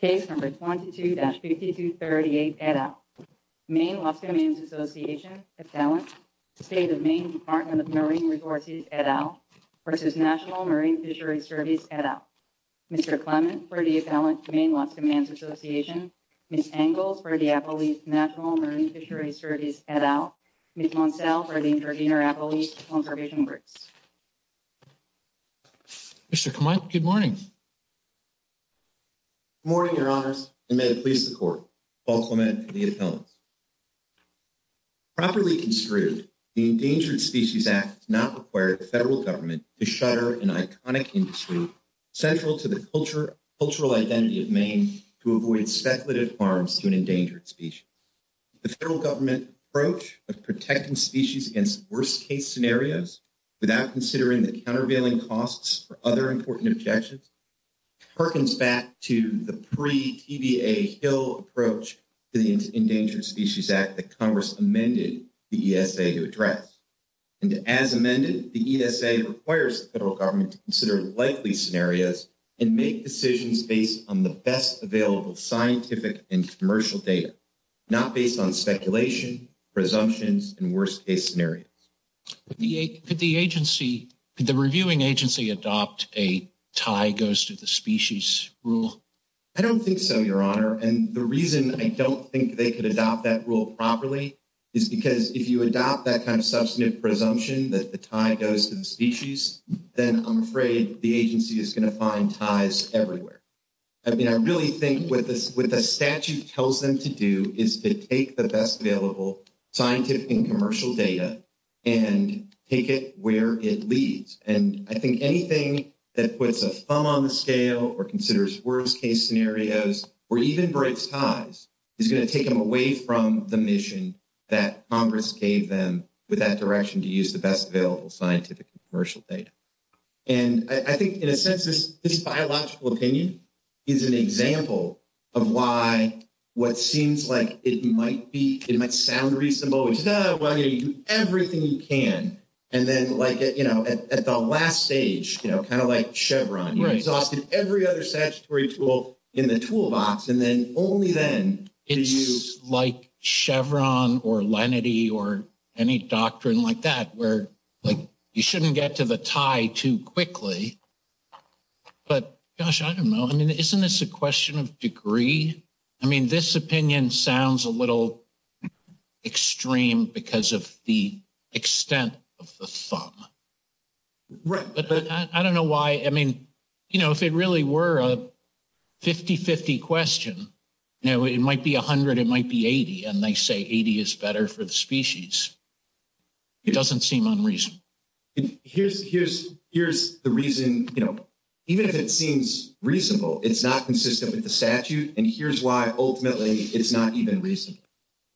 Page number 22-5238 et al. Maine Lobstermen's Association, Atalant, State of Maine Department of Marine Resources et al. versus National Marine Fisheries Service et al. Mr. Clements for the Atalant Maine Lobstermen's Association, Ms. Engel for the Appalachian National Marine Fisheries Service et al., Ms. Montel for the Intervenor Appalachian Conservation Group. Mr. Clements, good morning. Good morning, your honor, and may it please the court, Paul Clement, the Atalant. Properly construed, the Endangered Species Act not required the federal government to shutter an iconic industry central to the cultural identity of Maine to avoid speculative harms to an endangered species. The federal government's approach of protecting species against worst case scenarios without considering the countervailing costs for other important objections perkins back to the pre-TBA Hill approach to the Endangered Species Act that Congress amended the ESA to address. And as amended, the ESA requires the federal government to consider likely scenarios and make decisions based on the best available scientific and commercial data, not based on speculation, presumptions, and worst case scenarios. Could the agency, could the reviewing agency adopt a tie goes to the species rule? I don't think so, your honor, and the reason I don't think they could adopt that rule properly is because if you adopt that kind of substantive presumption that the tie goes to the species, then I'm afraid the agency is going to find ties everywhere. I mean, I really think what the statute tells them to do is to take the best available scientific and commercial data and take it where it leads. And I think anything that puts a thumb on the scale or considers worst case scenarios or even breaks ties is going to take them away from the mission that Congress gave them with that direction to use the best available scientific and commercial data. And I think in a sense this biological opinion is an example of why what seems like it might be, it might sound reasonable, no, I mean everything you can, and then like, you know, at the last stage, you know, kind of like Chevron, you exhausted every other statutory tool in the toolbox, and then only then can you use like Chevron or Lenity or any doctrine like that where like you shouldn't get to the tie too quickly, but gosh, I don't know. I mean, isn't this a question of degree? I mean, this opinion sounds a little extreme because of the extent of the thumb. Right, but I don't know why, I mean, you know, if it really were a 50-50 question, you know, it might be 100, it might be 80, and they say 80 is better for the species. It doesn't seem unreasonable. Here's the reason, you know, even if it seems reasonable, it's not consistent with the statute, and here's why ultimately it's not even reasonable,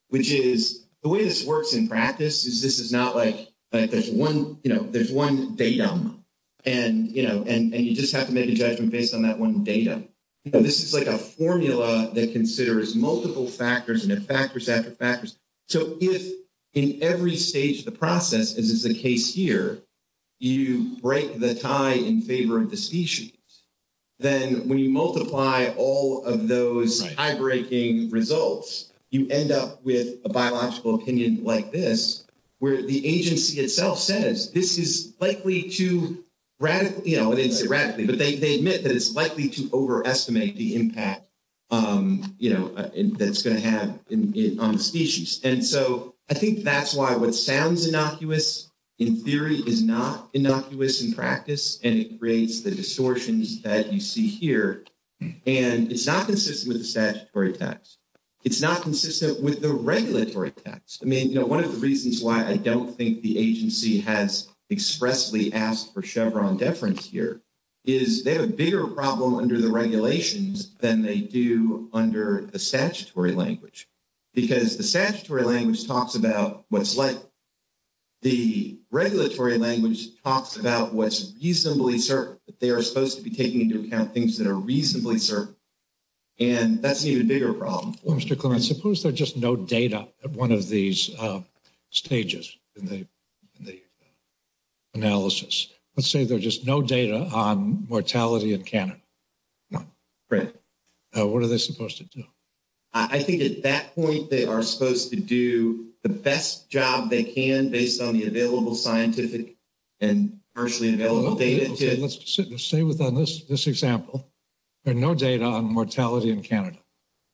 which is, the way this works in practice is this is not like, like, there's one, you know, there's one datum, and, you know, and you just have to make a judgment based on that one datum. This is like a formula that considers multiple factors and then factors after factors. So if in every stage of the process, as is the case here, you break the tie in favor of the species, then when you multiply all of those high-breaking results, you end up with a biological opinion like this, where the agency itself says this is likely to radically, you know, I didn't say radically, but they admit that it's likely to overestimate the impact, you know, that it's going to have on the species, and so I think that's why what sounds innocuous in theory is not innocuous in practice, and it creates the distortions that you see here, and it's not consistent with the statutory text. It's not consistent with the regulatory text. I mean, you know, one of the reasons why I don't think the agency has expressly asked for Chevron deference here is they have a bigger problem under the regulations than they do under the statutory language, because the statutory language talks about what's likely. The regulatory language talks about what's reasonably certain. They are supposed to be taking into account things that are reasonably certain, and that's an even bigger problem. Well, Mr. Cohen, suppose there's just no data at one of these stages in the analysis. Let's say there's just no data on what are they supposed to do. I think at that point, they are supposed to do the best job they can based on the available scientific and commercially available data. Let's say that on this example, there's no data on mortality in Canada.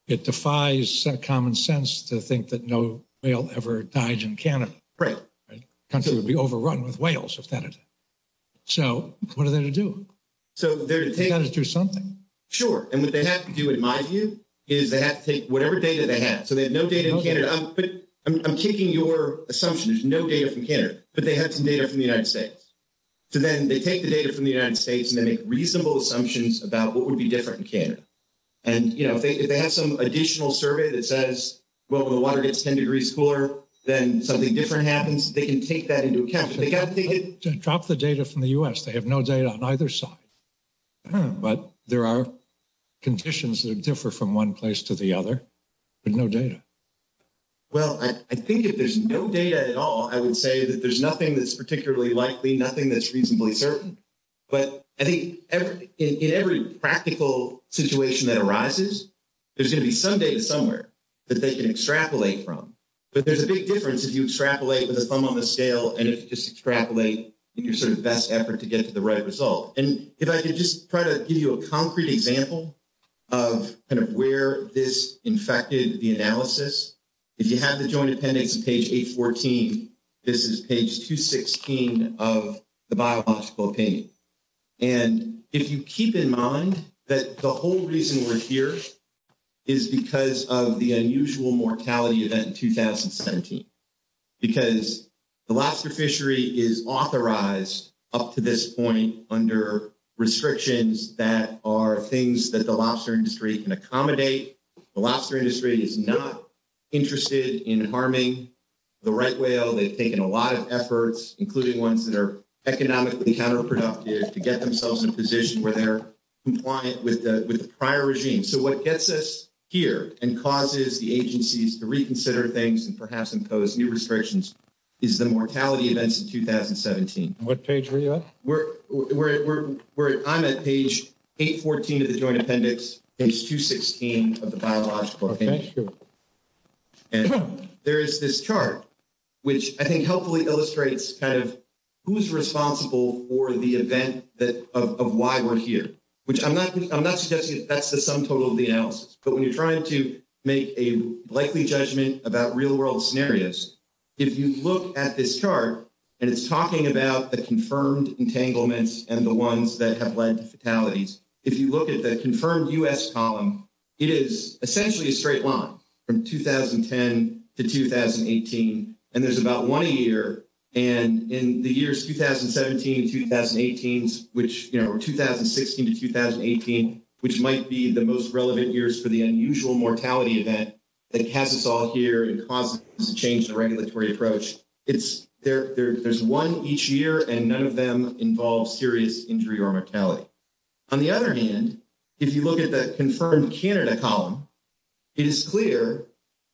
It defies common sense to think that no whale ever dies in Canada. Right. The country would be overrun with whales if Canada did. So what are they to do? So they're to do something. Sure. And what they have to do, in my view, is they have to take whatever data they have. So they have no data in Canada. I'm taking your assumption. There's no data from Canada. But they have some data from the United States. So then they take the data from the United States, and they make reasonable assumptions about what would be different in Canada. And, you know, if they have some additional survey that says, well, the water gets 10 degrees cooler, then something different happens, they can take that into account. But they can't take it to drop the data from the U.S. They have no data on either side. But there are conditions that differ from one place to the other, and no data. Well, I think if there's no data at all, I would say that there's nothing that's particularly likely, nothing that's reasonably certain. But I think in every practical situation that arises, there's going to be some data somewhere that they can extrapolate from. But there's a big difference if you extrapolate with a thumb on the scale, and it's just extrapolate your sort of best effort to get to the right result. And if I could just try to give you a concrete example of kind of where this infected the analysis, if you have the Joint Appendix on page 814, this is page 216 of the Bioblast Blockade. And if you keep in mind that the whole reason we're here is because of the unusual mortality event in 2017. Because the lobster fishery is authorized up to this point under restrictions that are things that the lobster industry can accommodate. The lobster industry is not interested in harming the right whale. They've taken a lot of efforts, including ones that are economically counterproductive, to get themselves in a position where they're compliant with the prior regime. So what gets us here and causes the agencies to reconsider things, and perhaps impose new restrictions, is the mortality events in 2017. And what page are you at? I'm at page 814 of the Joint Appendix, page 216 of the Bioblast Blockade. Okay, that's good. And there's this chart, which I think helpfully illustrates kind of who's responsible for the event of why we're here. Which I'm not suggesting that's the sum total of the analysis. But when you're trying to make a likely judgment about real-world scenarios, if you look at this chart, and it's talking about the confirmed entanglements and the ones that have led to fatalities, if you look at the confirmed U.S. column, it is essentially a straight line from 2010 to 2018. And there's about one a year. And in the years 2017, 2018, or 2016 to 2018, which might be the most relevant years for the unusual mortality event that has us all here and has changed the regulatory approach, there's one each year, and none of them involve serious injury or mortality. On the other hand, if you look at the confirmed Canada column, it is clear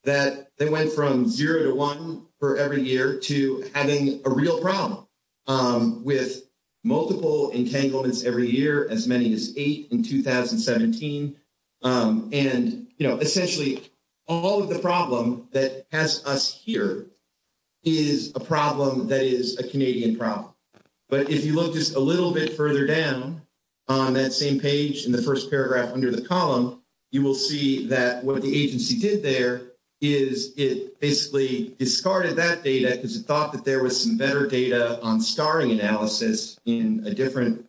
that they went from zero to one for every year to having a real problem with multiple entanglements every year, as many as eight in 2017. And, you know, essentially all of the problem that has us here is a problem that is a Canadian problem. But if you look just a little bit further down on that same page in the first paragraph under the column, you will see that what the agency did there is it basically discarded that data because it thought that there was some better data on scarring analysis in a different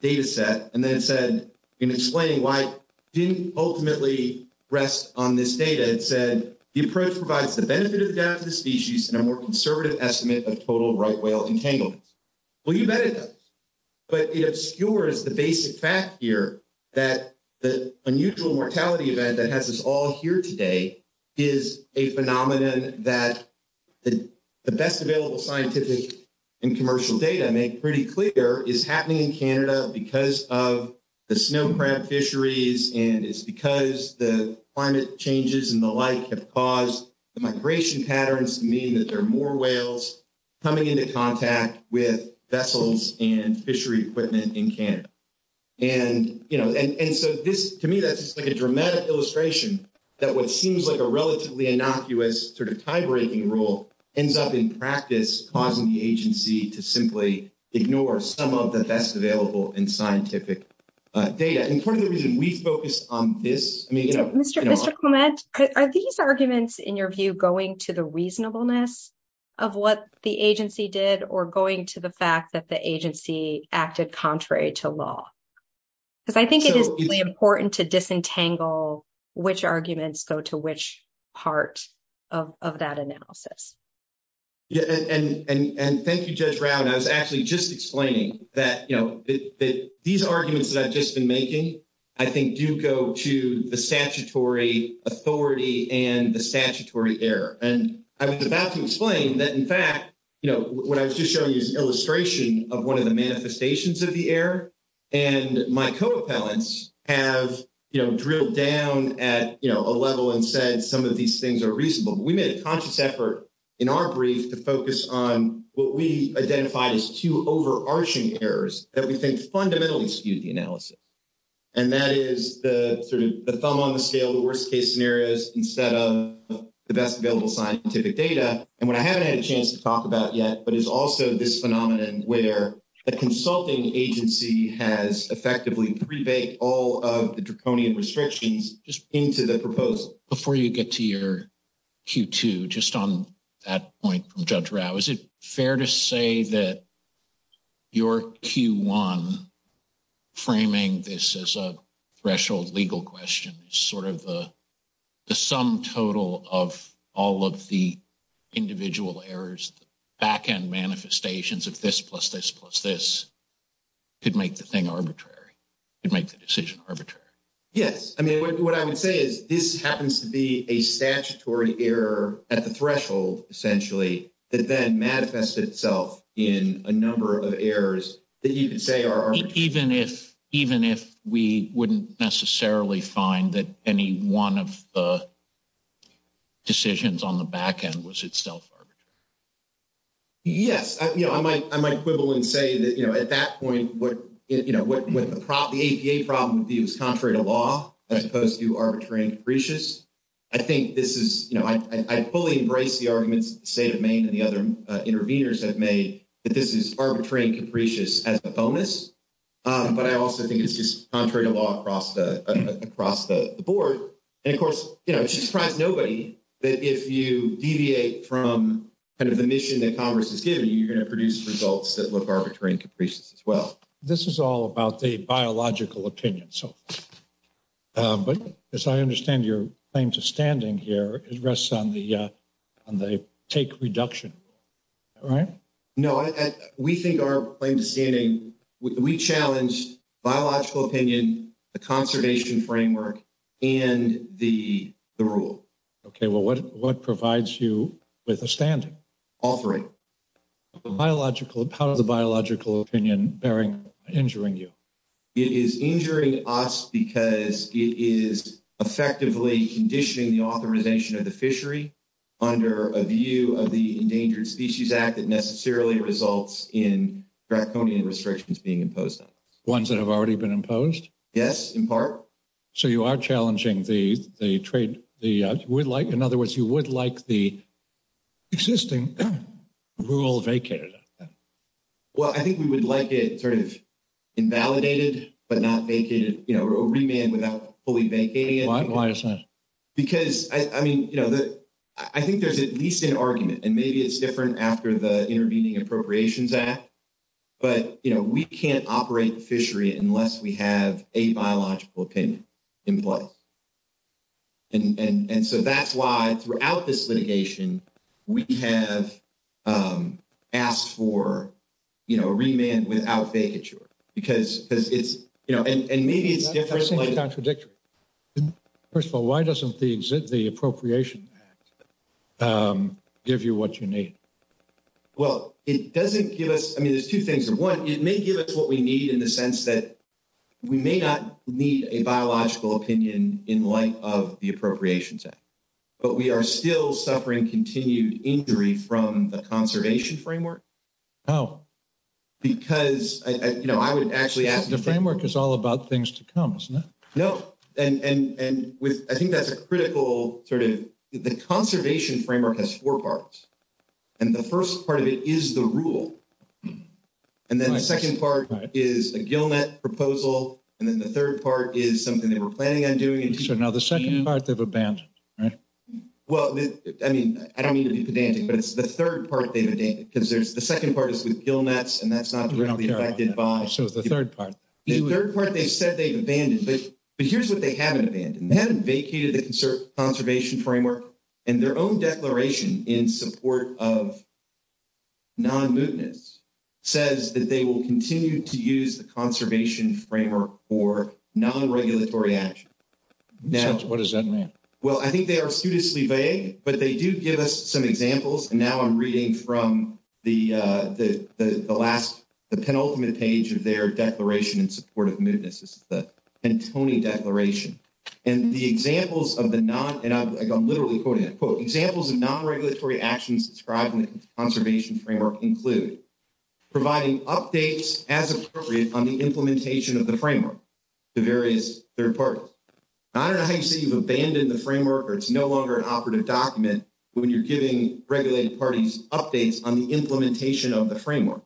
data set. And then it said, in explaining why it didn't ultimately rest on this data, it said, the approach provides the benefit of death to the species in a more conservative estimate of total right whale entanglement. Well, you bet it does. But it obscures the basic fact here that the unusual mortality event that has us all here today is a phenomenon that the best available scientific and commercial data make pretty clear is happening in Canada because of the snow crab fisheries, and it's because the climate changes and the like have caused the migration patterns to mean that there are more whales coming into contact with vessels and fishery equipment in Canada. And, you know, and so this, to me, that's just like a dramatic illustration that what seems like a relatively innocuous sort of tie-breaking rule ends up in practice causing the agency to simply ignore some of the best available and scientific data. And part of the reason we focus on this, I mean, you know... Mr. Clement, are these arguments, in your view, going to the reasonableness of what the agency did or going to the fact that the agency acted contrary to law? Because I think it is really important to disentangle which arguments go to which part of that analysis. Yeah, and thank you, Judge Brown. I was actually just explaining that, you know, these arguments that I've just been making, I think do go to the statutory authority and the statutory error. And I was about to explain that, in fact, you know, what I was just showing you is an illustration of one of the manifestations of the error. And my co-appellants have, you know, drilled down at, you know, a level and said some of these things are reasonable. We made a conscious effort in our brief to focus on that we think fundamentally skewed the analysis. And that is the sort of the thumb on the scale, the worst case scenarios, instead of the best available scientific data. And what I haven't had a chance to talk about yet, but it's also this phenomenon where a consulting agency has effectively rebaked all of the draconian restrictions just into the proposal. Before you get to your Q2, just on that point from Judge Rao, is it fair to say that your Q1 framing this as a threshold legal question is sort of the sum total of all of the individual errors, back-end manifestations of this plus this plus this could make the thing arbitrary, could make the decision arbitrary? Yes. I mean, what I would say is this happens to be a statutory error at the threshold, essentially, that then manifests itself in a number of errors that you could say are- Even if we wouldn't necessarily find that any one of the decisions on the back-end was itself arbitrary. Yes. I might quibble and say that at that point, the APA problem is contrary to law, as opposed to arbitrary and capricious. I think this is, I fully embrace the arguments the State of Maine and the other interveners have made, that this is arbitrary and capricious as a bonus, but I also think it's just contrary to law across the board. And of course, it should frighten nobody that if you deviate from the mission that Congress has given you, you're going to produce results that look arbitrary and capricious as well. This is all about the biological opinion. But as I understand your claims of standing here, it rests on the take reduction, right? No. We think our claims of standing, we challenge biological opinion, the conservation framework, and the rule. Okay. Well, what provides you with a standing? Authoring. How does the biological opinion bearing injuring you? It is injuring us because it is effectively conditioning the authorization of the fishery under a view of the Endangered Species Act that necessarily results in draft funding restrictions being imposed. Ones that have already been imposed? Yes, in part. So you are challenging the trade, the would like, in other words, you would like the existing rule vacated. Well, I think we would like it sort of invalidated, but not vacated, you know, or remain without fully vacating it. Because, I mean, you know, I think there's at least an argument, and maybe it's different after the Intervening Appropriations Act, but, you know, we can't operate the fishery unless we have a biological opinion in place. And so that's why throughout this litigation, we have asked for, you know, a remand without vacature, because it's, you know, and maybe it's different. Why doesn't it contradict? First of all, why doesn't the Appropriations Act give you what you need? Well, it doesn't give us, I mean, there's two things. And one, it may give us what we need in the sense that we may not need a biological opinion in light of the Appropriations Act, but we are still suffering continued injury from the conservation framework. Oh. Because, you know, I would actually ask- The framework is all about things to come, isn't it? No, and I think that's a critical sort of, the conservation framework has four parts. And the first part of it is the rule. And then the second part is a gill net proposal. And then the third part is something they were planning on doing. So now the second part they've abandoned, right? Well, I mean, I don't mean to be pedantic, but it's the third part they've abandoned, because the second part is with gill nets and that's not really affected by- So the third part. The third part they said they've abandoned, but here's what they haven't abandoned. They haven't vacated the conservation framework and their own declaration in support of non-mootness says that they will continue to use the conservation framework for non-regulatory action. What does that mean? Well, I think they are seriously vague, but they do give us some examples. And now I'm reading from the last, the penultimate page of their declaration in support of mootness. This is the Antony Declaration. And the examples of the non- and I'm literally quoting a quote, examples of non-regulatory actions described in the conservation framework include providing updates as appropriate on the implementation of the framework to various third parties. I don't know how you say you've abandoned the framework or it's no longer an operative document when you're giving regulated parties updates on the implementation of the framework.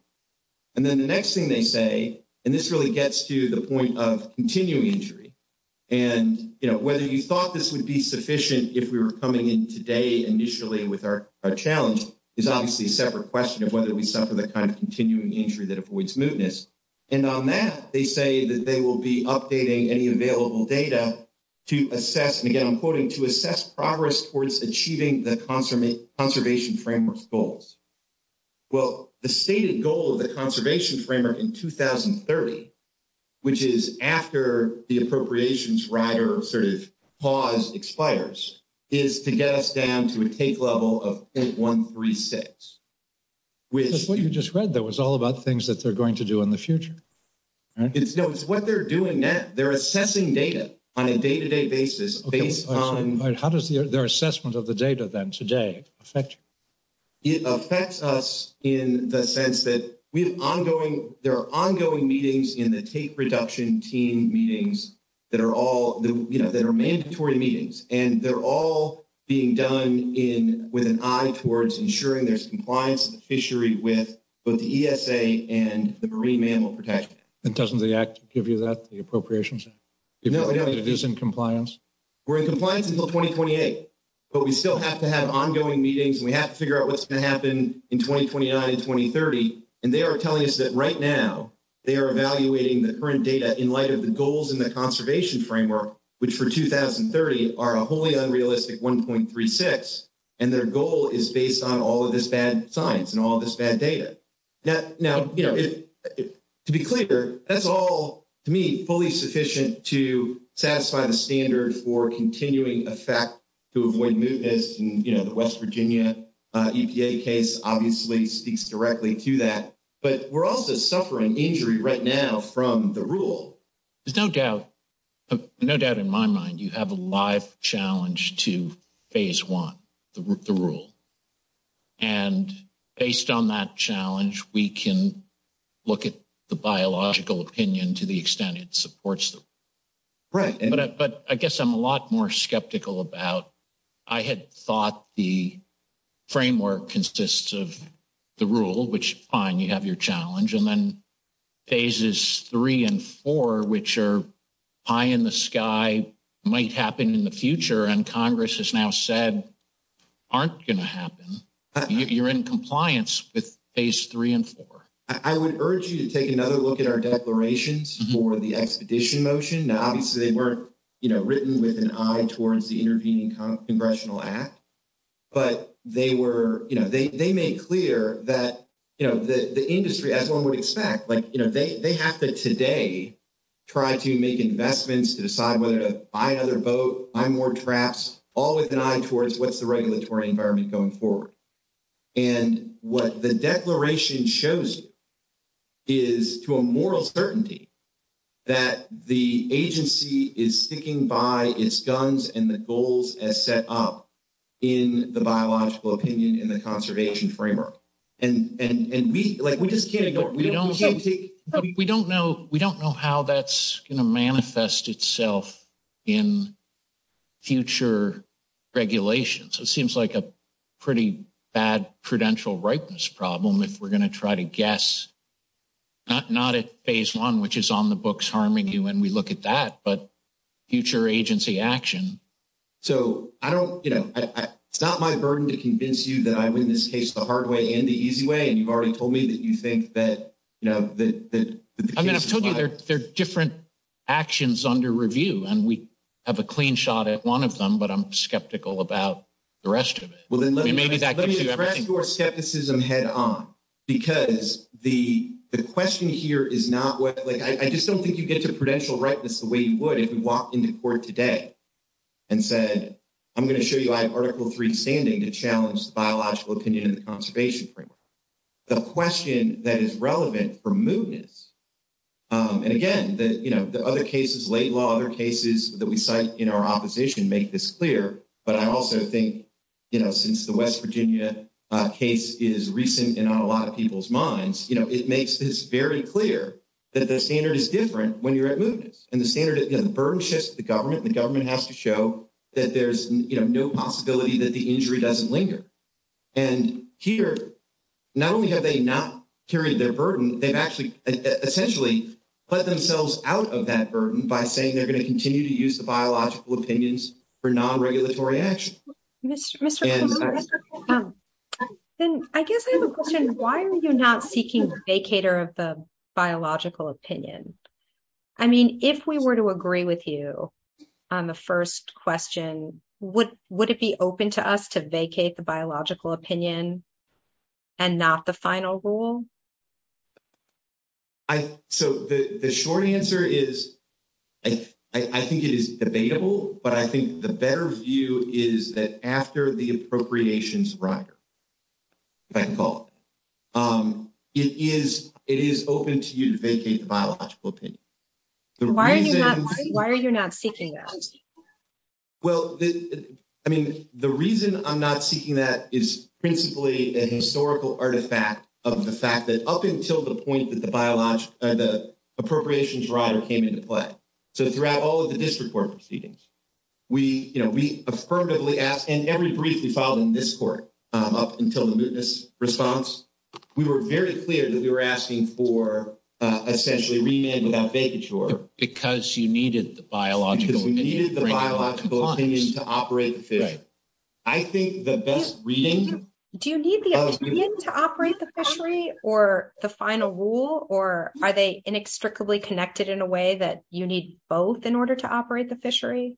And then the next thing they say, and this really gets to the point of continuing entry. And whether you thought this would be sufficient if we were coming in today, initially with our challenge is obviously a separate question of whether we suffer the kind of continuing entry that avoids mootness. And on that, they say that they will be updating any available data to assess, and again, I'm quoting, to assess progress towards achieving the conservation framework goals. Well, the stated goal of the conservation framework in 2030, which is after the appropriations rider sort of pause expires, is to get us down to a take level of 10.136, which- That's what you just read though. It's all about things that they're going to do in the future, right? It's what they're doing now. They're assessing data on a day-to-day basis based on- How does their assessment of the data then today affect? It affects us in the sense that we have ongoing, there are ongoing meetings in the take reduction team meetings that are mandatory meetings, and they're all being done with an eye towards ensuring there's compliance with the fishery with both the ESA and the Marine Mammal Protection. And doesn't the act give you that, the appropriations? No, no. You're using compliance. We're in compliance until 2028, but we still have to have ongoing meetings. We have to figure out what's going to happen in 2029 and 2030. And they are telling us that right now, they are evaluating the current data in light of the goals in the conservation framework, which for 2030 are a wholly unrealistic 1.36. And their goal is based on all of this bad science and all of this bad data. Now, to be clear, that's all to me, fully sufficient to satisfy the standard for continuing effect to avoid movements. And the West Virginia EPA case obviously speaks directly to that, but we're also suffering injury right now from the rule. There's no doubt, no doubt in my mind, you have a live challenge to phase one, the rule. And based on that challenge, we can look at the biological opinion to the extent it supports them. Right. But I guess I'm a lot more skeptical about, I had thought the framework consists of the rule, which fine, you have your challenge. And then phases three and four, which are high in the sky might happen in the future. And Congress has now said, aren't going to happen. You're in compliance with phase three and four. I would urge you to take another look at our declarations for the expedition motion. Now, obviously they weren't written with an eye towards the intervening Congressional Act, but they made clear that the industry, as one would expect, like they have to today try to make investments to decide whether to buy another boat, buy more traps, all with an eye towards what's the regulatory environment going forward. And what the declaration shows is to a moral certainty that the agency is sticking by its guns and the goals as set up in the biological opinion in the conservation framework. And like, we just can't... We don't know how that's going to manifest itself in future regulations. It seems like a pretty bad prudential ripeness problem if we're going to try to guess, not at phase one, which is on the books, Harmony, when we look at that, but future agency action. So I don't... It's not my burden to convince you that I'm in this case the hard way and the easy way. And you've already told me that you think that... I'm going to put their different actions under review and we have a clean shot at one of them, but I'm skeptical about the rest of it. Well, then let me address your skepticism head on because the question here is not what... Like, I just don't think you get the prudential ripeness the way you would if you walked into court today and said, I'm going to show you I have article three standing to challenge the biological opinion in the conservation framework. The question that is relevant for movements... And again, the other cases, late law, other cases that we cite in our opposition make this clear. But I also think since the West Virginia case is recent in a lot of people's minds, it makes this very clear that the standard is different when you're at movements. And the burden shifts to the government. The government has to show that there's no possibility that the injury doesn't linger. And here, not only have they not carried their burden, they've actually essentially let themselves out of that burden by saying they're going to continue to use the biological opinions for non-regulatory action. Mr. Cormier, I guess I have a question. Why are you not seeking a vacator of the biological opinion? I mean, if we were to agree with you on the first question, would it be open to us to vacate the biological opinion and not the final rule? So the short answer is, I think it is debatable, but I think the better view is that after the appropriations record, it is open to you to vacate the biological opinion. Why are you not seeking that? Well, I mean, the reason I'm not seeking that is principally an historical artifact of the fact that up until the point that the appropriations record came into play, so throughout all of the district court proceedings, we affirmatively asked, and every brief we filed in this court up until the witness response, we were very clear that we were asking for essentially re-ending that vacature. Because she needed the biological opinion. Because we needed the biological opinion to operate the fishery. I think the best reason- Do you need the opinion to operate the fishery or the final rule, or are they inextricably connected in a way that you need both in order to operate the fishery?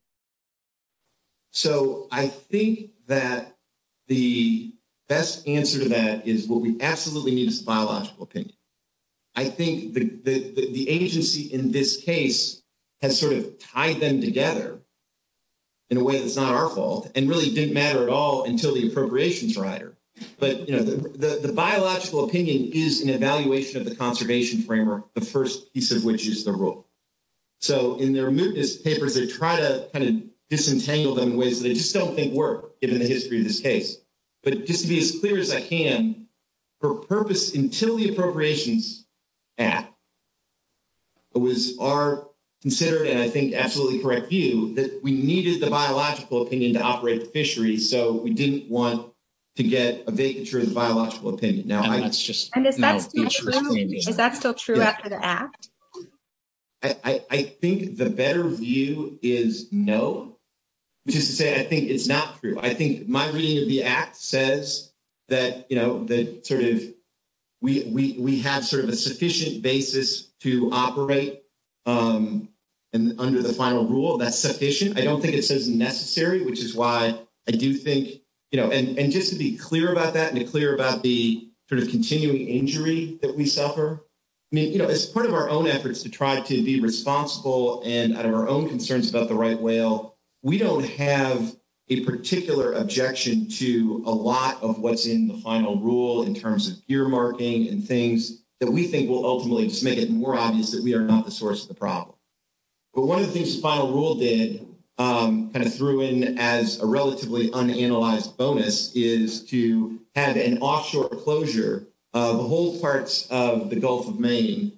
So, I think that the best answer to that is what we absolutely need is biological opinion. I think the agency in this case has sort of tied them together in a way that's not our fault and really didn't matter at all until the appropriations were higher. But the biological opinion is an evaluation of the conservation framework, the first piece of which is the rule. So, in the removal of this paper, they try to kind of disentangle them in ways that I just don't think work given the history of this case. But just to be as clear as I can, for purpose until the appropriations act, it was our considerate and I think absolutely correct view that we needed the biological opinion to operate the fishery. So, we didn't want to get a vacature as biological opinion. Now, that's just- And if that's not true, is that still true after the act? I think the better view is no. Just to say, I think it's not true. I think my reading of the act says that we have sort of a sufficient basis to operate under the final rule. That's sufficient. I don't think it says necessary, which is why I do think, and just to be clear about that and clear about the continuing injury that we suffer. As part of our own efforts to try to be responsible and our own concerns about the right whale, we don't have a particular objection to a lot of what's in the final rule in terms of gear marking and things that we think will ultimately just make it more obvious that we are not the source of the problem. But one of the things the final rule did, kind of threw in as a relatively unanalyzed bonus is to have an offshore closure of the whole parts of the Gulf of Maine.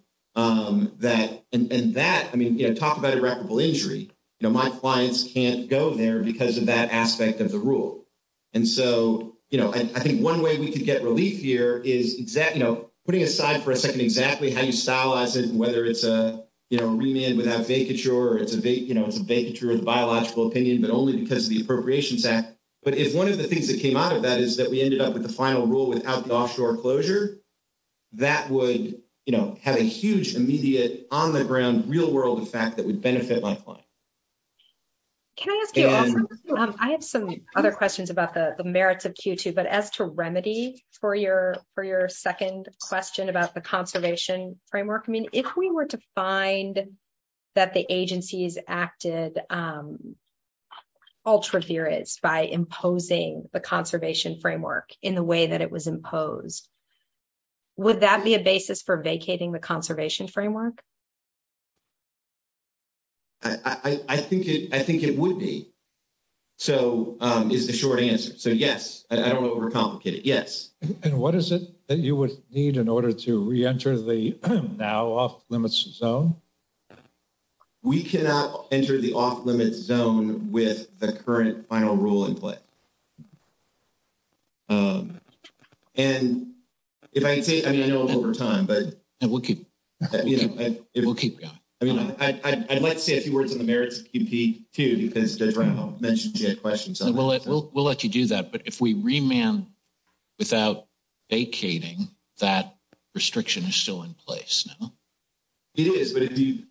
Talk about irreparable injury. My clients can't go there because of that aspect of the rule. I think one way we could get relief here is putting it aside for a second exactly how you stylize it and whether it's a remand without vacature or it's a vacature in the biological opinion but only because of the appropriations act. But if one of the things that came out of that is that we ended up with the final rule without the offshore closure, that would have a huge immediate on the ground real world effect that would benefit my client. Can I ask you, I have some other questions about the merits of Q2 but as to remedy for your second question about the conservation framework, I mean, if we were to find that the agencies acted ultra-zero by imposing the conservation framework in the way that it was imposed, would that be a basis for vacating the conservation framework? I think it would be is the short answer. So yes, I don't know if we're complicated. Yes. And what is it that you would need in order to re-enter the now off-limits zone? We cannot enter the off-limits zone with the current final rule in place. And if I could say, I mean, I know it's over time, but I'd like to say a few words on the merits of Q2 because I mentioned you had questions. We'll let you do that. But if we remand without vacating, that restriction is still in place, no? It is,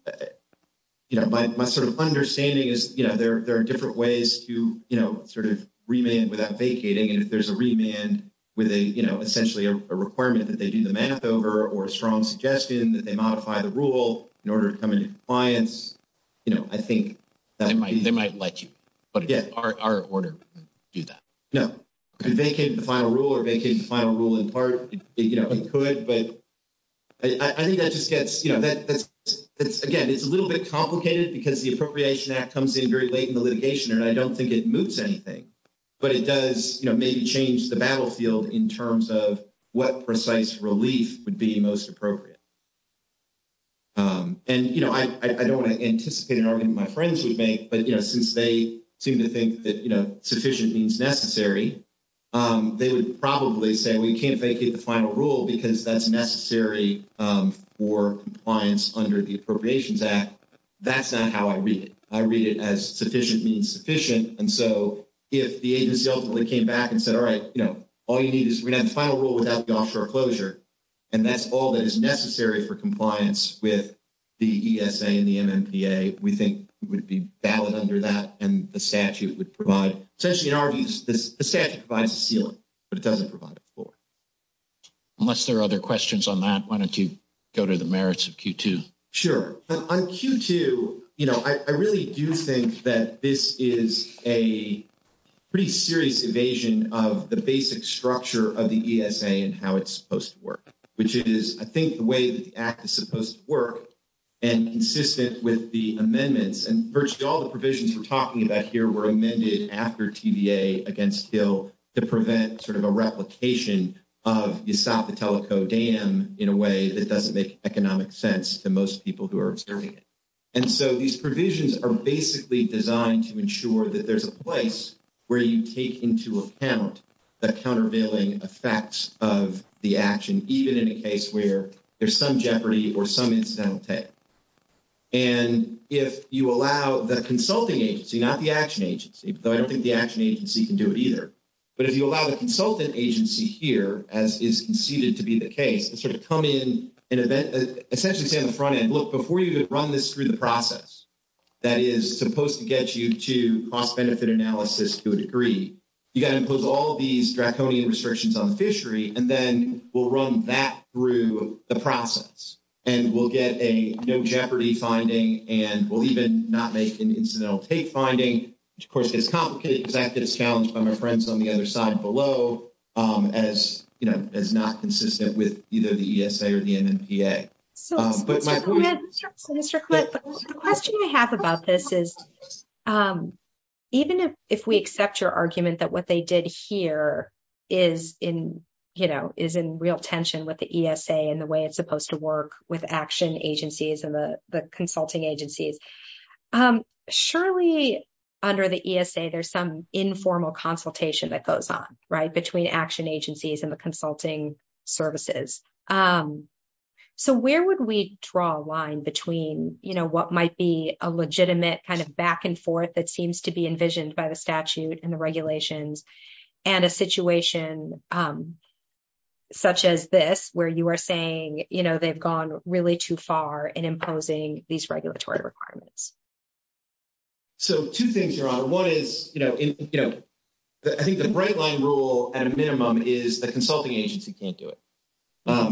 but my sort of understanding is there are different ways to sort of remand without vacating. And if there's a remand with a, you know, essentially a requirement that they do the math over or a strong suggestion that they modify the rule in order to come into compliance, you know, I think they might let you. But again, our order would do that. No, if you vacate the final rule or vacate the final rule in part, it could, but I think that just gets, you know, that's, again, it's a little bit complicated because the Appropriation Act comes in very late in the litigation and I don't think it moves anything. But it does, you know, maybe change the battlefield in terms of what precise relief would be most appropriate. And, you know, I don't want to anticipate in everything my friends would make, but, you know, since they seem to think that, you know, sufficient means necessary, they would probably say we can't vacate the final rule because that's necessary for compliance under the Appropriations Act. That's not how I read it. I read it as sufficient means sufficient. And so if the agency ultimately came back and said, all right, you know, all you need is the final rule without the offshore closure and that's all that is necessary for compliance with the ESA and the MMPA, we think it would be valid under that and the statute would provide, essentially in our views, the statute provides a ceiling, but it doesn't provide a floor. Unless there are other questions on that, why don't you go to the merits of Q2? Sure. On Q2, you know, I really do think that this is a pretty serious evasion of the basic structure of the ESA and how it's supposed to work, which is, I think, the way the Act is supposed to work and consistent with the amendments and virtually all the provisions we're talking about here were amended after TVA against Hill to prevent sort of a replication of the Esopho-Teleco Dam in a way that doesn't make economic sense to most people who are observing it. And so these provisions are basically designed to ensure that there's a place where you take into account the countervailing effects of the action, even in a case where there's some jeopardy or some incident will take. And if you allow the consulting agency, not the action agency, because I don't think the action agency can do it either, but if you allow the consultant agency here, as is conceded to be the case, to come in and essentially say on the front end, look, before you run this through the process, that is supposed to get you to cost benefit analysis to a degree, you got to impose all these draconian restrictions on the fishery, and then we'll run that through the process and we'll get a no jeopardy finding and we'll even not make an incidental case finding, which of course gets complicated because that gets challenged by my friends on the other side below as not consistent with either the ESA or the MMPA. But my point is- Mr. Cliff, the question I have about this is, even if we accept your argument that what they did here is in real tension with the ESA and the way it's supposed to work with action agencies and the consulting agencies, surely under the ESA, there's some informal consultation that goes on, right? Between action agencies and the consulting services. So where would we draw a line between what might be a legitimate kind of back and forth that seems to be envisioned by the statute and the regulations and a situation such as this where you are saying, they've gone really too far in imposing these regulatory requirements. So two things, Your Honor. One is, I think the bright line rule at a minimum is the consulting agency can't do it.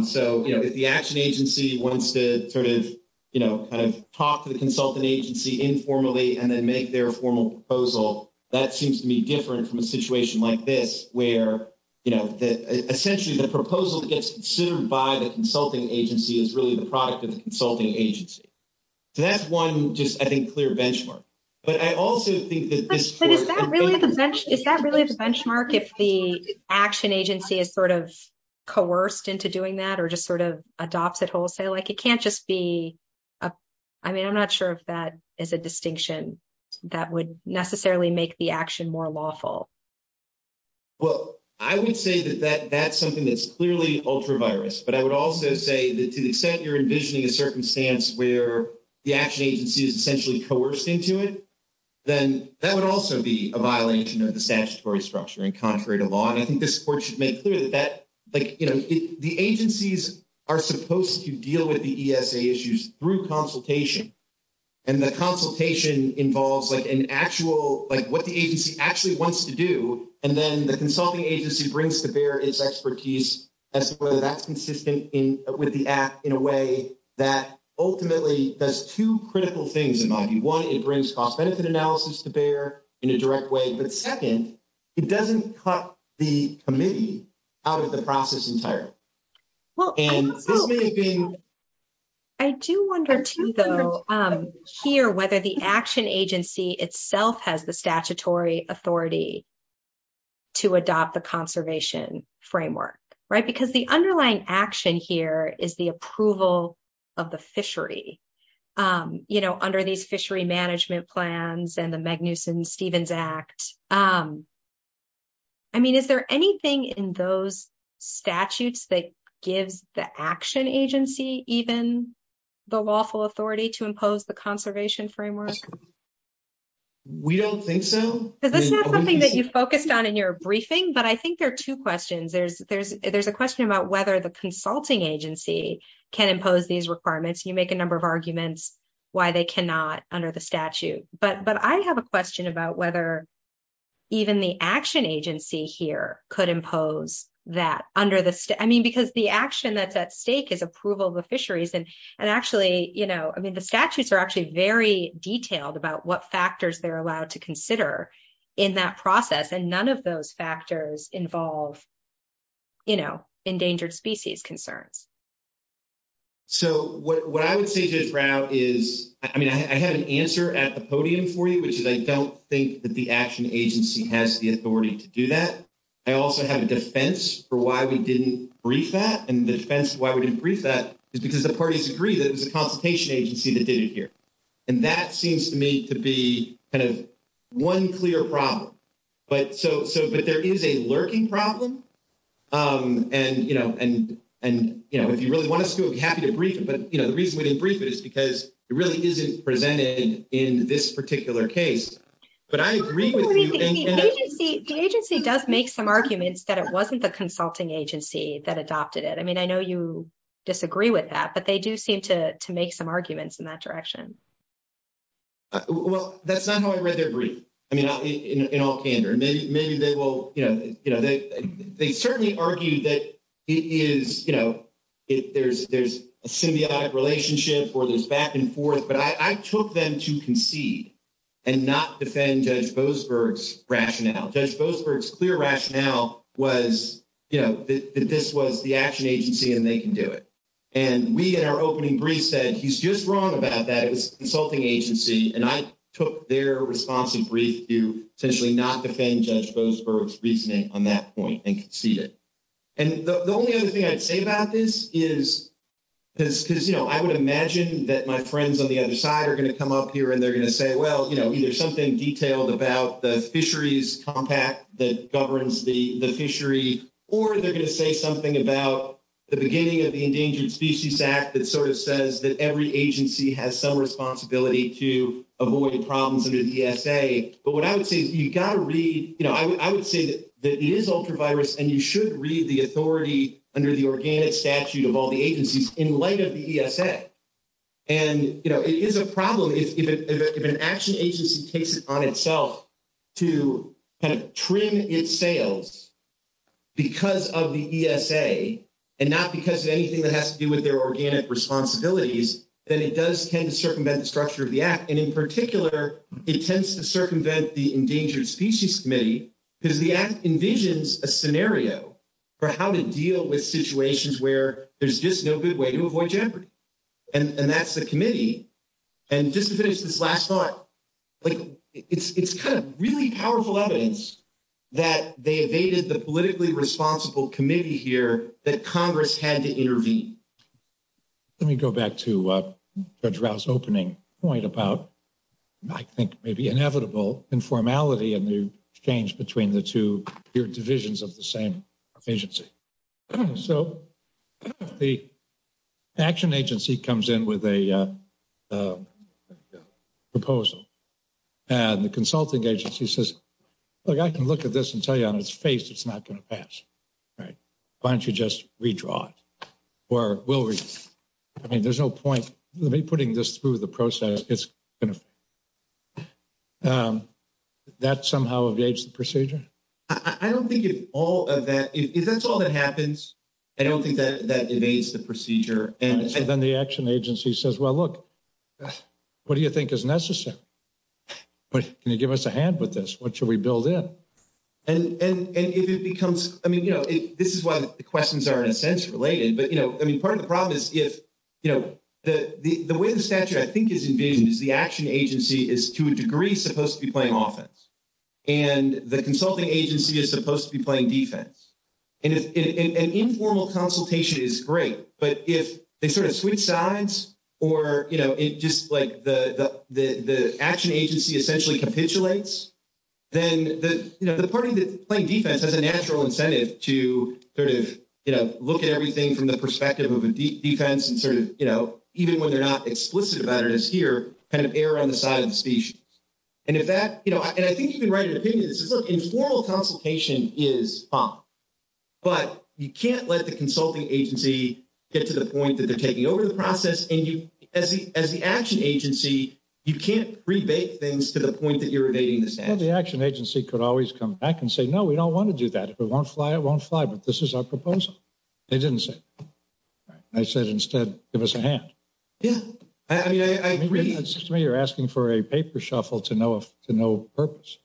So if the action agency wants to sort of, you know, kind of talk to the consulting agency informally and then make their formal proposal, that seems to be different from a situation like this where, you know, essentially the proposal gets assumed by the consulting agency is really the product of the consulting agency. So that's one just, I think, clear benchmark. But I also think that- But is that really a benchmark if the action agency is sort of coerced into doing that or just sort of adopts it wholesale? Like it can't just be- I mean, I'm not sure if that is a distinction that would necessarily make the action more lawful. Well, I would say that that's something that's clearly ultra-virus. But I would also say that to the extent you're envisioning a circumstance where the action agency is essentially coerced into it, then that would also be a violation of the statutory structure and contrary to law. I think this court should make clear that like, you know, the agencies are supposed to deal with the ESA issues through consultation. And the consultation involves like an actual, like what the agency actually wants to do. And then the consulting agency brings to bear its expertise as to whether that's consistent with the act in a way that ultimately does two critical things in my view. One, it brings cost-benefit analysis to bear in a direct way. But second, it doesn't cut the committee out of the process entirely. I do wonder too though, here whether the action agency itself has the statutory authority to adopt the conservation framework, right? Because the underlying action here is the approval of the fishery, you know, under these fishery management plans and the Magnuson-Stevens Act. I mean, is there anything in those statutes that gives the action agency even the lawful authority to impose the conservation framework? We don't think so. Is this not something that you focused on in your briefing? But I think there are two questions. There's a question about whether the consulting agency can impose these requirements. You make a number of arguments why they cannot under the statute. But I have a question about whether even the action agency here could impose that under the state. I mean, because the action at that state is approval of the fisheries. And actually, you know, I mean, the statutes are actually very detailed about what factors they're allowed to consider in that process. And none of those factors involve, you know, endangered species concerns. So what I would say just now is, I mean, I have an answer at the podium for you, which is I don't think that the action agency has the authority to do that. I also have a defense for why we didn't brief that. And the defense, why we didn't brief that is because the parties agree that it was a consultation agency that did it here. And that seems to me to be kind of one clear problem. But so, but there is a lurking problem. And, you know, and, you know, if you really want us to, we'll be happy to brief it. But, you know, the reason we didn't brief it is because it really isn't presented in this particular case. But I agree with you. The agency does make some arguments that it wasn't the consulting agency that adopted it. I mean, I know you disagree with that, but they do seem to make some arguments in that direction. Well, that's not how I read their brief. I mean, in all candor, maybe they will, you know, they certainly argue that it is, you know, there's a symbiotic relationship or there's back and forth. But I took them to concede and not defend Judge Boasberg's rationale. Judge Boasberg's clear rationale was, you know, that this was the action agency and they can do it. And we, in our opening brief, said he's just wrong about that. It was the consulting agency. And I took their responsive brief to essentially not defend Judge Boasberg's reasoning on that point and concede it. And the only other thing I'd say about this is because, you know, I would imagine that my friends on the other side are going to come up here and they're going to say, well, you know, either something detailed about the fisheries compact that governs the fishery, or they're going to say something about the beginning of the Endangered Species Act that sort of says that every agency has some responsibility to avoid the problems under the ESA. But what I would say, you've got to read, you know, I would say that it is ultravirus and you should read the authority under the organic statute of all the agencies in light of the ESA. And, you know, it is a problem if an action agency takes it on itself to kind of trim its sails because of the ESA and not because of anything that has to do with their organic responsibilities, then it does tend to circumvent the structure of the act. And in particular, it tends to circumvent the Endangered Species Committee because the act envisions a scenario for how to deal with situations where there's just no good way to avoid jeopardy. And that's the committee. And just to finish this last part, like it's kind of really powerful evidence that they evaded the politically responsible committee here that Congress had to intervene. Let me go back to Judge Rao's opening point about, I think, maybe inevitable informality in the exchange between the two peer divisions of the same agency. So the action agency comes in with a proposal and the consulting agency says, look, I can look at this and tell you on its face, it's not going to pass, right? Why don't you just redraw it? Or will we? I mean, there's no point in me putting this through the process. That somehow evades the procedure? I don't think it's all of that. If that's all that happens, I don't think that evades the procedure. And then the action agency says, well, look, what do you think is necessary? But can you give us a hand with this? What should we build in? And if it becomes, I mean, you know, this is why the questions are in a sense related. But, you know, I mean, part of the problem is if, you know, the way the statute, I think, is engaged is the action agency is to a degree supposed to be playing offense. And the consulting agency is supposed to be playing defense. And an informal consultation is great. But if they sort of switch sides, or, you know, just like the action agency essentially capitulates, then, you know, the party that's playing defense has a natural incentive to sort of, you know, look at everything from the perspective of a defense and sort of, you know, even when they're not explicit about it as here, kind of err on the side of the species. And if that, you know, and I think you can write an opinion. It's just, look, informal consultation is fine. But you can't let the consulting agency get to the point that they're taking over the process. And as the action agency, you can't rebate things to the point that you're evading the statute. And the action agency could always come back and say, no, we don't want to do that. If it won't fly, it won't fly. But this is our proposal. They didn't say. I said, instead, give us a hand. Yeah, I mean, I agree. It seems to me you're asking for a paper shuffle to no purpose.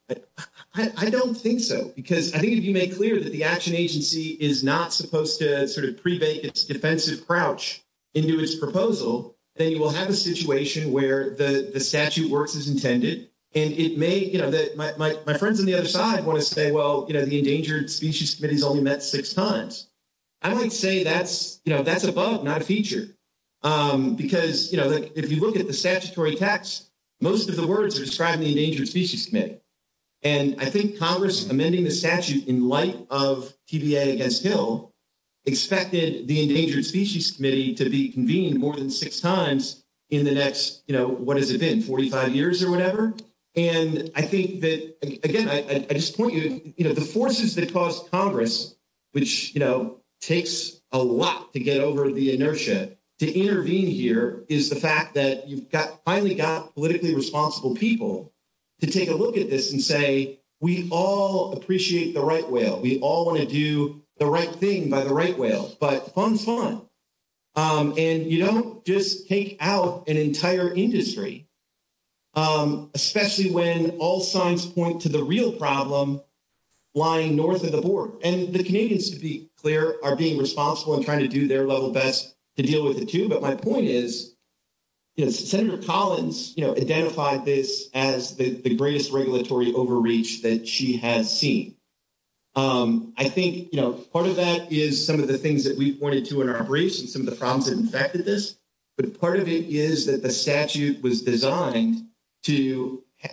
I don't think so. Because I think if you make clear that the action agency is not supposed to sort of defensive crouch into his proposal, then you will have a situation where the statute works as intended. And it may, you know, my friends on the other side always say, well, you know, the Endangered Species Committee has only met six times. I would say that's, you know, that's above, not a feature. Because, you know, if you look at the statutory text, most of the words are describing the Endangered Species Committee. And I think Congress amending the statute in light of TBA against Hill expected the Endangered Species Committee to be convened more than six times in the next, you know, what has it been, 45 years or whatever. And I think that, again, I just point you, you know, the forces that cause Congress, which, you know, takes a lot to get over the inertia to intervene here is the fact that you've got, finally got politically responsible people to take a look at this and say, we all appreciate the right whale. We all want to do the right thing by the right whales, but fun's fun. And you don't just take out an entire industry, especially when all signs point to the real problem lying north of the board. And the Canadians, to be clear, are being responsible and trying to do their level best to deal with it too. But my point is, you know, Senator Collins, you know, identified this as the greatest regulatory overreach that she had seen. I think, you know, part of that is some of the things that we pointed to in our briefs and some of the problems that impacted this. But part of it is that the statute was designed to,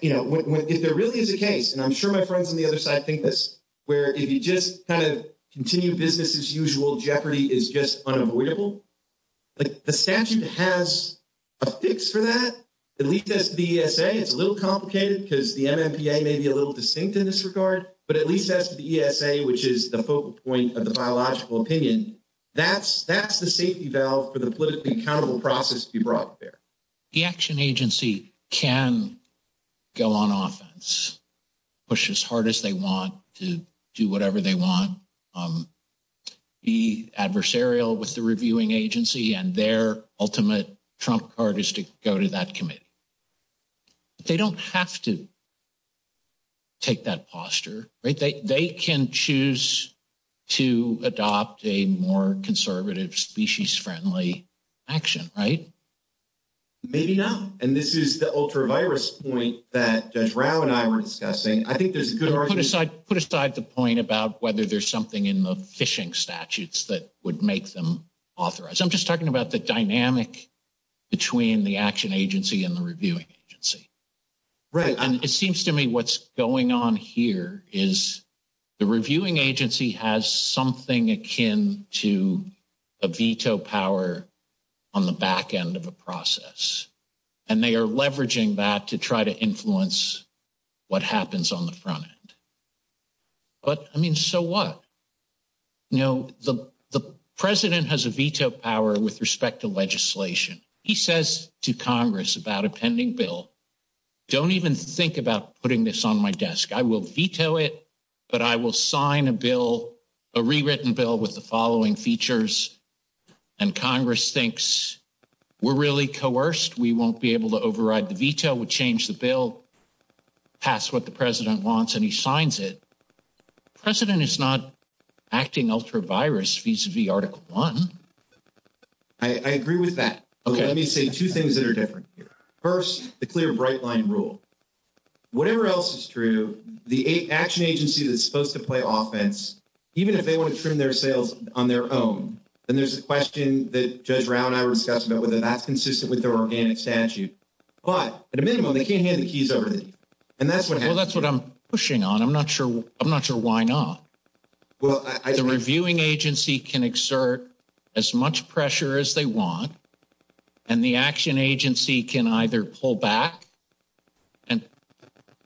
you know, if there really is a case, and I'm sure my friends on the other side think this, where if you just kind of continue business as usual, jeopardy is just unavoidable. But the statute has a fix for that. At least that's the ESA. It's a little complicated because the MMPA may be a little distinct in this regard, but at least that's the ESA, which is the focal point of the biological opinion. That's the safety valve for the politically accountable process to be brought there. The action agency can go on offense, push as hard as they want to do whatever they want, be adversarial with the reviewing agency and their ultimate trump card is to go to that committee. They don't have to take that posture. They can choose to adopt a more conservative, species-friendly action, right? Maybe not. And this is the ultra-virus point that Drow and I were discussing. I think there's a good argument. Put aside the point about whether there's something in the fishing statutes that would make them authorized. I'm just talking about the dynamic between the action agency and the reviewing agency. Right. And it seems to me what's going on here is the reviewing agency has something akin to a veto power on the back end of a process. And they are leveraging that to try to influence what happens on the front end. But I mean, so what? You know, the president has a veto power with respect to legislation. He says to Congress about a pending bill, don't even think about putting this on my desk. I will veto it, but I will sign a bill, a rewritten bill with the following features. And Congress thinks we're really coerced. We won't be able to override the veto. We'll change the bill, pass what the president wants and he signs it. The president is not acting ultra-virus vis-a-vis Article 1. I agree with that. Okay. Let me say two things First, the clear bright line rule. Whatever else is true, the action agency that's supposed to play offense, even if they want to trim their sales on their own, and there's a question that Judge Brown and I were discussing about whether that's consistent with their organic statute. But at a minimum, they can't hand the keys over to me. And that's what I'm pushing on. I'm not sure. I'm not sure why not. Well, the reviewing agency can exert as much pressure as they want. And the action agency can either pull back and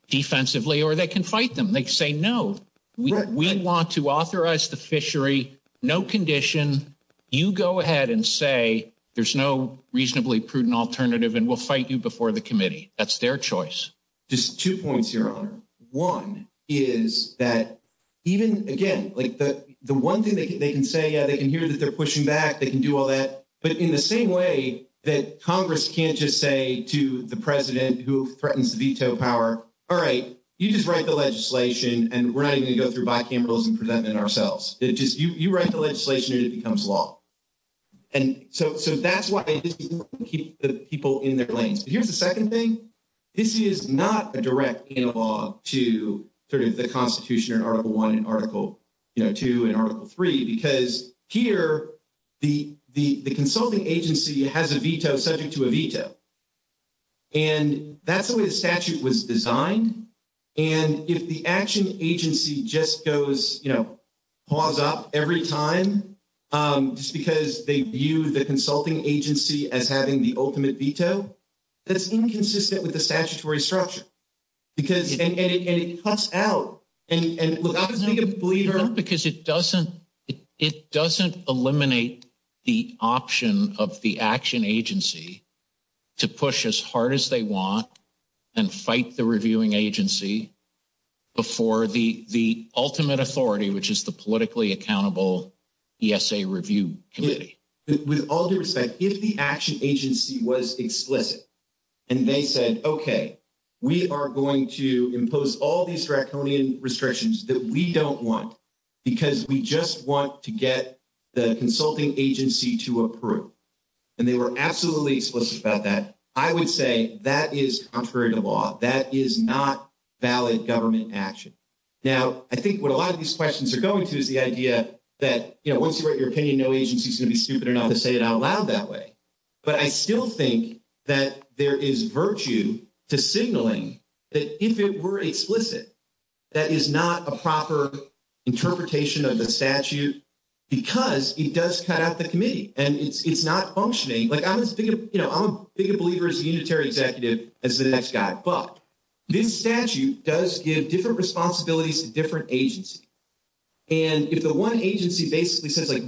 defensively, or they can fight them. They say, no, we want to authorize the fishery. No condition. You go ahead and say, there's no reasonably prudent alternative and we'll fight you before the committee. That's their choice. Just two points, Your Honor. One is that even again, like the one thing they can say, they can hear that they're pushing back. They can do all that. But in the same way that Congress can't just say to the president who threatens the veto power, all right, you just write the legislation and we're not even going to go through bicamerals and present it ourselves. It's just you write the legislation and it becomes law. And so that's why I think we want to keep the people in their lanes. Here's the second thing. This is not a direct analog to sort of the Constitution or Article I and Article II and Article III because here the consulting agency has a veto subject to a veto. And that's the way the statute was designed. And if the action agency just goes, you know, paws up every time just because they view the consulting agency as having the ultimate veto, that's inconsistent with the statutory structure. Because it cuts out and it will not make a plea. Because it doesn't, it doesn't eliminate the option of the action agency to push as hard as they want and fight the reviewing agency before the ultimate authority, which is the politically accountable ESA review committee. With all due respect, if the action agency was explicit and they said, okay, we are going to impose all these rectal restrictions that we don't want, because we just want to get the consulting agency to approve. And they were absolutely explicit about that. I would say that is contrary to law. That is not valid government action. Now, I think what a lot of these questions are going to is the idea that, you know, once you write your opinion, no agency is going to be stupid enough to say it out loud that way. But I still think that there is virtue to signaling that if it were explicit, that is not a proper interpretation of the statute, because it does cut out the committee and it's not functioning. Like, I'm a big believer as a unitary executive as the next guy. But this statute does give different responsibilities to different agencies. And if the one agency basically says, like,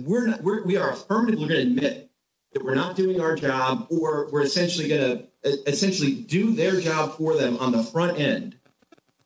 we are affirming, we're going to admit that we're not doing our job or we're essentially going to do their job for them on the front end.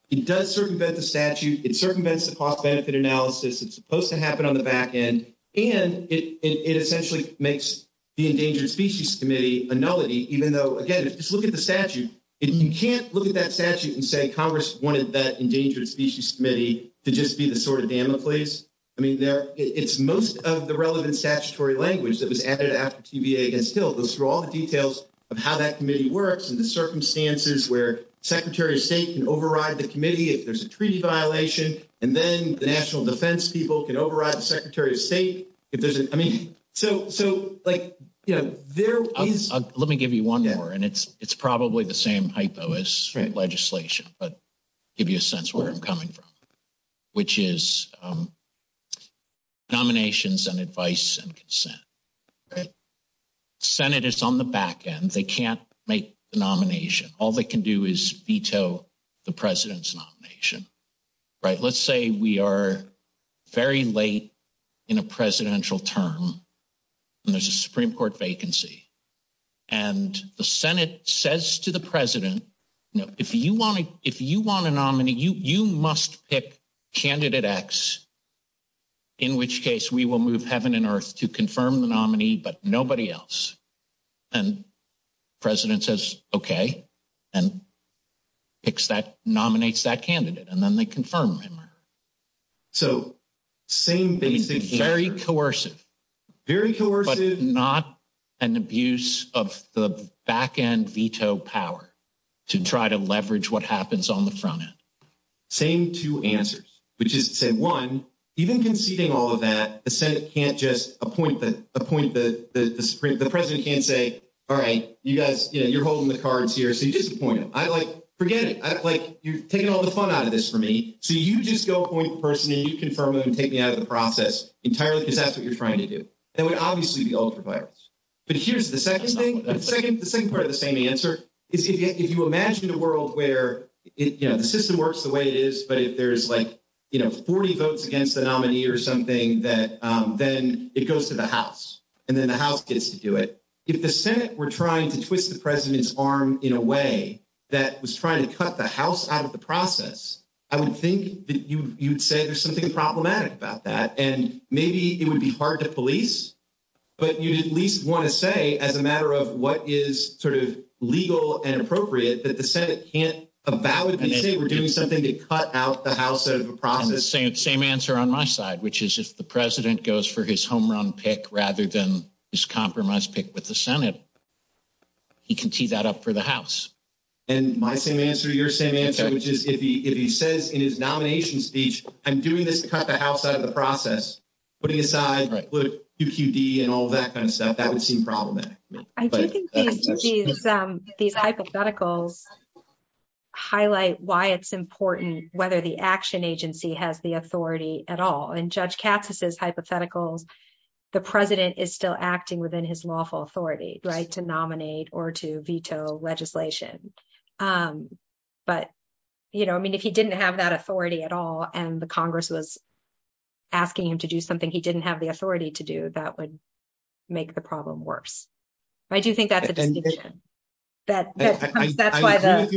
It does circumvent the statute. It circumvents the cost benefit analysis. It's supposed to happen on the back end. And it essentially makes the Endangered Species Committee a nullity, even though, again, if you look at the statute, if you can't look at that statute and say Congress wanted that Endangered Species Committee to just be the sort of dam in place. I mean, it's most of the relevant statutory language that was added after TVA. And still, those are all the details of how that committee works and the circumstances where Secretary of State can override the committee if there's a treaty violation. And then the national defense people can override the Secretary of State. If there's, I mean, so, so, like, you know, there is, let me give you one number and it's probably the same hypo as straight legislation, but give you a sense where I'm coming from, which is nominations and advice and consent. Senate is on the back end. They can't make the nomination. All they can do is veto the president's nomination, right? Let's say we are very late in a presidential term and there's a Supreme Court vacancy and the Senate says to the president, if you want a nominee, you must pick candidate X, in which case we will move heaven and earth to confirm the nominee, but nobody else. And president says, okay. And nominates that candidate and then they confirm him. So same thing, very coercive, very coercive, not an abuse of the back end veto power to try to leverage what happens on the front end. Same two answers, which is to say one, even conceding all of that, the Senate can't just appoint the, appoint the, the president can't say, all right, you guys, you're holding the cards here. So you disappoint them. I like, forget it. Like you're taking all the fun out of this for me. So you just go appoint the person and you confirm them and take me out of the process entirely because that's what you're trying to do. That would obviously be ultra-violence. But here's the second thing. The second part of the same answer is if you imagine a world where, you know, the system works the way it is, but if there's like, you know, 40 votes against the nominee or something that then it goes to the House and then the House gets to do it. If the Senate were trying to twist the president's arm in a way that was trying to cut the House out of the process, I would think that you, you'd say there's something problematic about that. And maybe it would be hard to police, but you at least want to say as a matter of what is sort of legal and appropriate that the Senate can't about it and say, we're doing something to cut out the House out of the process. The same, same answer on my side, which is if the president goes for his home run pick rather than his compromise pick with the Senate, he can tee that up for the House. And my same answer, your same answer, which is if he, if he says in his nomination speech, I'm doing this to cut the House out of the process, putting aside QQD and all that kind of stuff, that would seem problematic. I think these hypotheticals highlight why it's important whether the action agency has the authority at all. And Judge Capsos' hypothetical, the president is still acting within his lawful authority. To nominate or to veto legislation. But, you know, I mean, if he didn't have that authority at all and the Congress was asking him to do something, he didn't have the authority to do, that would make the problem worse. I do think that's a division. That's why that.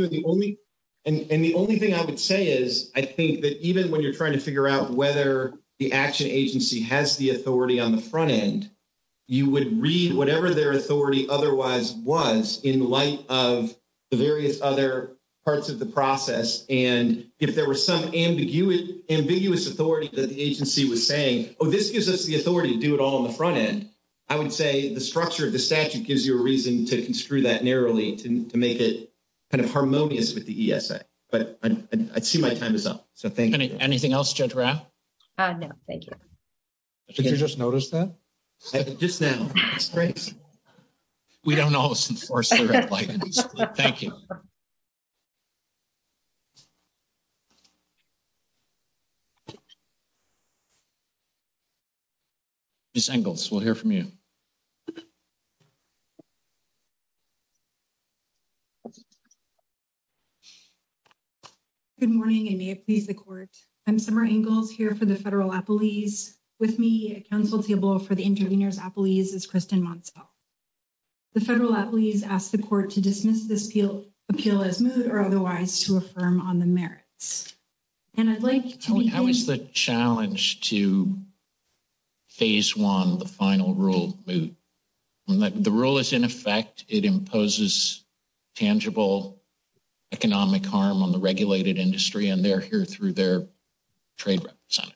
And the only thing I would say is, I think that even when you're trying to figure out whether the action agency has the authority on the front end, you would read whatever their authority otherwise was in the light of the various other parts of the process. And if there was some ambiguous authority that the agency was saying, oh, this gives us the authority to do it all on the front end. I would say the structure of the statute gives you a reason to construe that narrowly to make it kind of harmonious with the ESA. But I see my time is up. So thank you. Anything else, Judge Rao? No, thank you. Did you just notice that? Just now. We don't always enforce. Thank you. Ms. Ingalls, we'll hear from you. Good morning. I'm Summer Ingalls here for the Federal Appellees. With me at counsel table for the Intervenors Appellees is Kristen Monsville. The Federal Appellees ask the court to dismiss this appeal as moot or otherwise to affirm on the merits. And I'd like to- How is the challenge to phase one, the final rule, moot? The rule is in effect. It imposes tangible economic harm on the regulated industry and they're here through their trademark sign.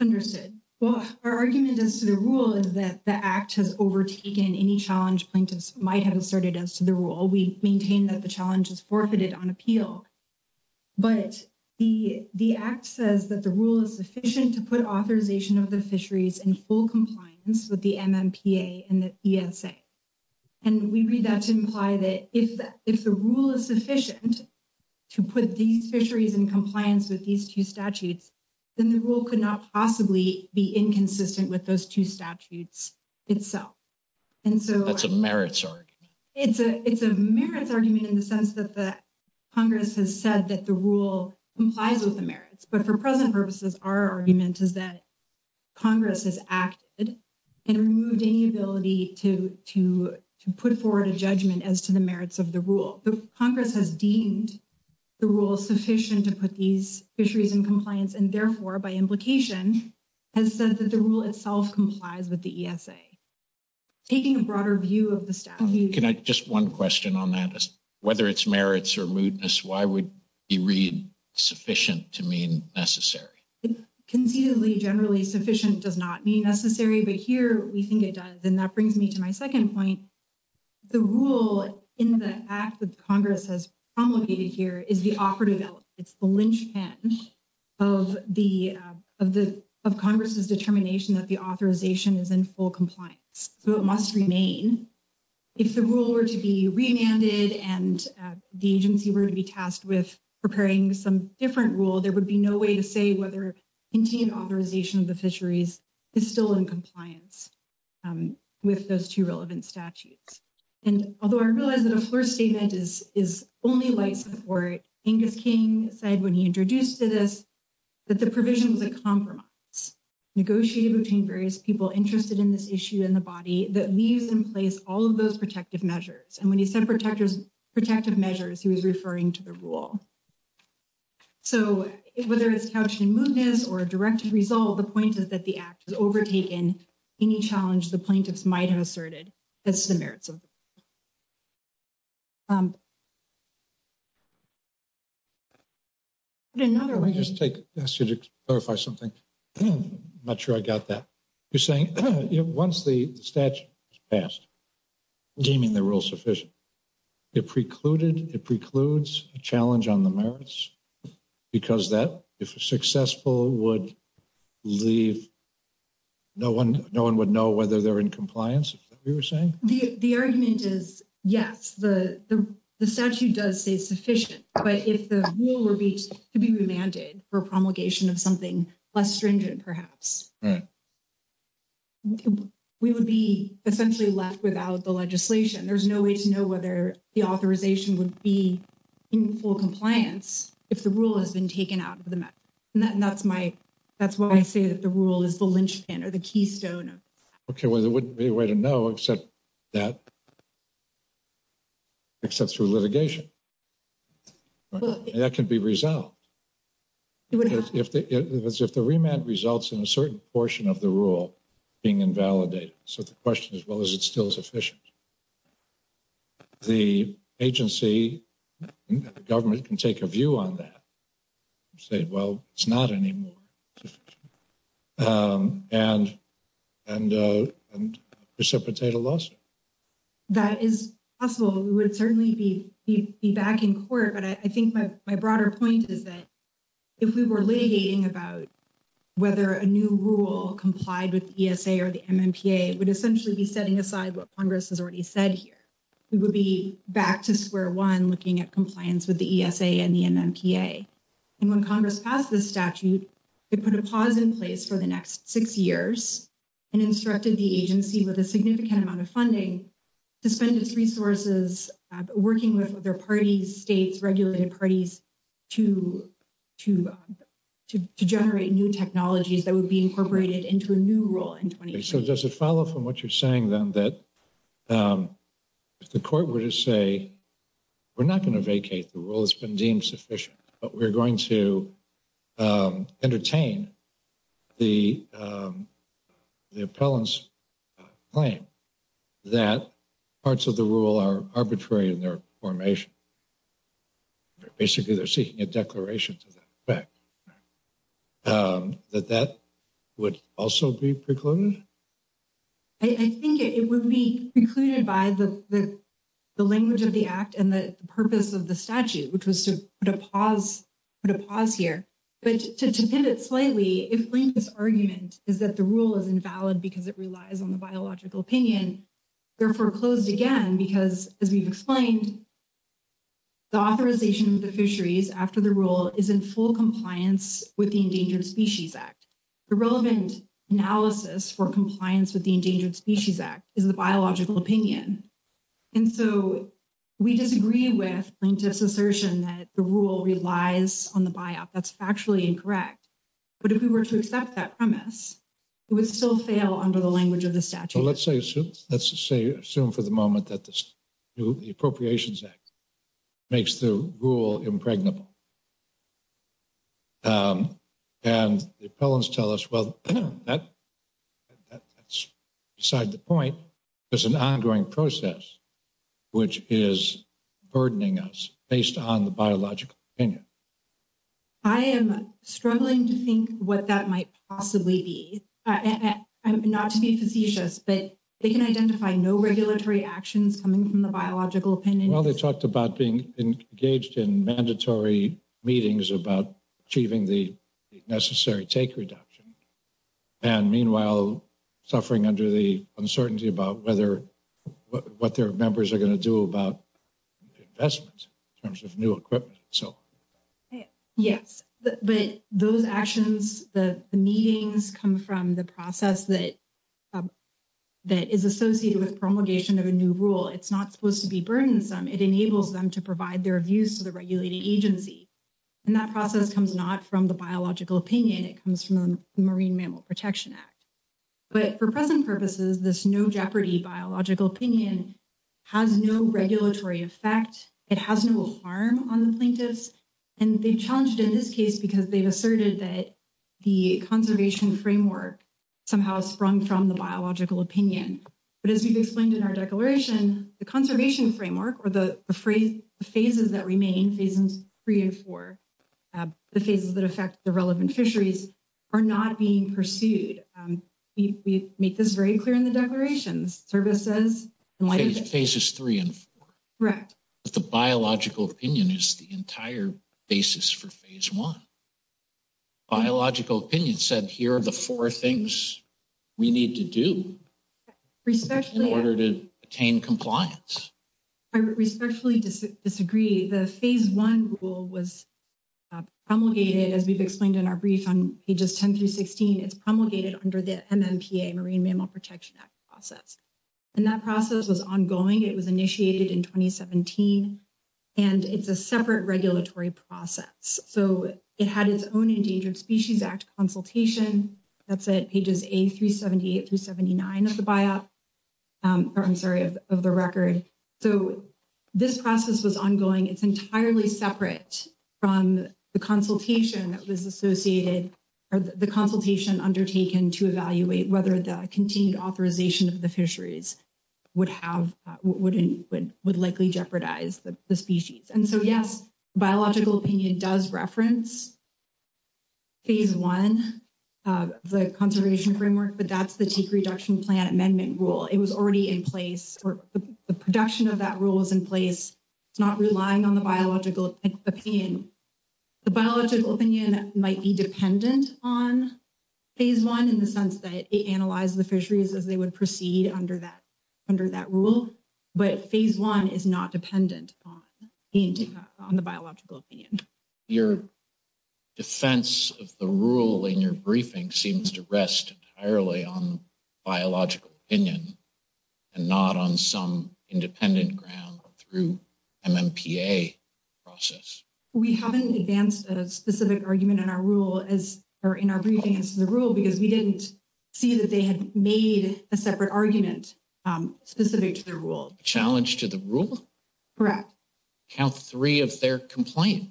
Understood. Well, our argument as to the rule is that the act has overtaken any challenge plaintiffs might have asserted as to the rule. We maintain that the challenge is forfeited on appeal. But the act says that the rule is sufficient to put authorization of the fisheries in full compliance with the MMPA and the CSA. And we read that to imply that if the rule is sufficient to put these fisheries in compliance with these two statutes, then the rule could not possibly be inconsistent with those two statutes itself. And so- That's a merits argument. It's a merits argument in the sense that the Congress has said that the rule complies with the merits. But for present purposes, our argument is that Congress has acted and removed any ability to put forward a judgment as to the merits of the rule. So Congress has deemed the rule sufficient to put these fisheries in compliance and therefore, by implication, has said that the rule itself complies with the ESA. Taking a broader view of the statute- Can I- just one question on that is whether it's merits or lewdness, why would you read sufficient to mean necessary? It's conceivably generally sufficient does not mean necessary, but here we think it does. And that brings me to my second point. The rule in the act that Congress has promulgated here is the offer to develop. It's the linchpin of the- of Congress's determination that the authorization is in full compliance. So it must remain. If the rule were to be remanded and the agency were to be tasked with preparing some different rule, there would be no way to say whether Indian authorization of the fisheries is still in compliance with those two relevant statutes. And although I realize that the first statement is only light support, Inga King said when he introduced this, that the provision is a compromise. Negotiated between various people interested in this issue and the body that leaves in place all of those protective measures. And when he said protectors, protective measures, he was referring to the rule. So whether it's cautioning movements or a directed result, the point is that the act was overtaken any challenge the plaintiffs might have asserted. That's the merits of the rule. Again, not only- Let me just take a question to clarify something. I'm not sure I got that. You're saying once the statute is passed, deeming the rule sufficient, it precluded, it precludes a challenge on the merits because that if successful would leave, no one would know whether they're in compliance. Is that what you're saying? The argument is yes, the statute does say sufficient, but if the rule were to be remanded for promulgation of something less stringent, perhaps. We would be essentially left without the legislation. There's no way to know whether the authorization would be in full compliance if the rule has been taken out. That's why I say that the rule is the linchpin or the keystone. Okay, well, there wouldn't be a way to know except that, except through litigation. That could be resolved. If the remand results in a certain portion of the rule being invalidated. So the question is, well, is it still sufficient? The agency, the government can take a view on that and say, well, it's not anymore. And, and, and precipitate a lawsuit. That is possible. We would certainly be back in court. But I think that my broader point is that if we were litigating about whether a new rule complied with ESA or the MMPA, it would essentially be setting aside what Congress has already said here. We would be back to square one, looking at compliance with the ESA and the MMPA. And when Congress passed this statute, it put a pause in place for the next six years and instructed the agency with a significant amount of funding to spend its resources working with other parties, states, regulated parties to, to, to generate new technologies that would be incorporated into a new rule in 2020. So just to follow up on what you're saying then, that the court were to say, we're not going to vacate. The rule has been deemed sufficient, but we're going to entertain the, the appellant's claim that parts of the rule are arbitrary in their formation. Basically, they're seeking a declaration to that effect. That that would also be precluded? I think it would be precluded by the, the, the language of the act and the purpose of the statute, which was to put a pause, put a pause here. But to, to hit it slightly, it brings this argument is that the rule is invalid because it relies on the biological opinion. Therefore closed again, because as we've explained, the authorization of the fisheries after the rule is in full compliance with the Endangered Species Act. The relevant analysis for compliance with the Endangered Species Act is the biological opinion. And so we disagree with plaintiff's assertion that the rule relies on the biop. That's factually incorrect. But if we were to accept that premise, it would still fail under the language of the statute. So let's say, let's say, assume for the moment that the Appropriations Act makes the rule impregnable. And the appellants tell us, well, that's beside the point. There's an ongoing process, which is burdening us based on the biological opinion. I am struggling to think what that might possibly be. And not to be facetious, but they can identify no regulatory actions coming from the biological opinion. Well, they talked about being engaged in mandatory meetings about achieving the necessary take reduction. And meanwhile, suffering under the uncertainty about whether, what their members are going to do about investments in terms of new equipment, so. Yes, but those actions, the meetings come from the process that is associated with promulgation of a new rule. It's not supposed to be burdensome. It enables them to provide their views to the regulating agency. And that process comes not from the biological opinion. It comes from the Marine Mammal Protection Act. But for present purposes, this no jeopardy biological opinion has no regulatory effect. It has no harm on the plaintiffs. And they challenged in this case because they've asserted that the conservation framework somehow sprung from the biological opinion. But as we've explained in our declaration, the conservation framework or the phases that remain, phases three and four, the phases that affect the relevant fisheries are not being pursued. We make this very clear in the declarations, services, phases three and four. Right. But the biological opinion is the entire basis for phase one. Biological opinion said here the four things we need to do in order to obtain compliance. I respectfully disagree. The phase one rule was promulgated, as we've explained in our brief on pages 10 through 16. It's promulgated under the MMPA, Marine Mammal Protection Act process. And that process was ongoing. It was initiated in 2017. And it's a separate regulatory process. So it had its own Endangered Species Act consultation. That's at pages A378 to 79 of the record. So this process was ongoing. It's entirely separate from the consultation that was associated or the consultation undertaken to evaluate whether the continued authorization of the fisheries would likely jeopardize the species. And so, yes, biological opinion does reference phase one, the conservation framework, but that's the take reduction plan amendment rule. It was already in place or the production of that rule is in place. It's not relying on the biological opinion. The biological opinion might be dependent on phase one in the sense that it analyzes the fisheries as they would proceed under that rule. But phase one is not dependent on the biological opinion. Your defense of the rule in your briefing seems to rest entirely on biological opinion and not on some independent ground or through MMPA process. We haven't advanced a specific argument in our rule or in our briefing as to the rule because we didn't see that they had made a separate argument specific to the rule. Challenge to the rule? Correct. Count three of their complaint.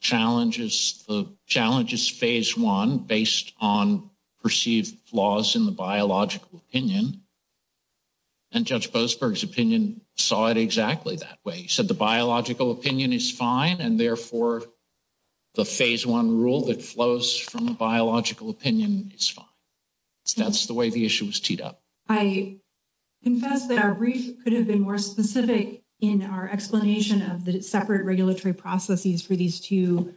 Challenges the challenges phase one based on perceived flaws in the biological opinion. And Judge Boasberg's opinion saw it exactly that way. He said the biological opinion is fine and therefore the phase one rule that flows from the biological opinion is fine. So that's the way the issue was teed up. I confess that our brief could have been more specific in our explanation of the separate regulatory processes for these two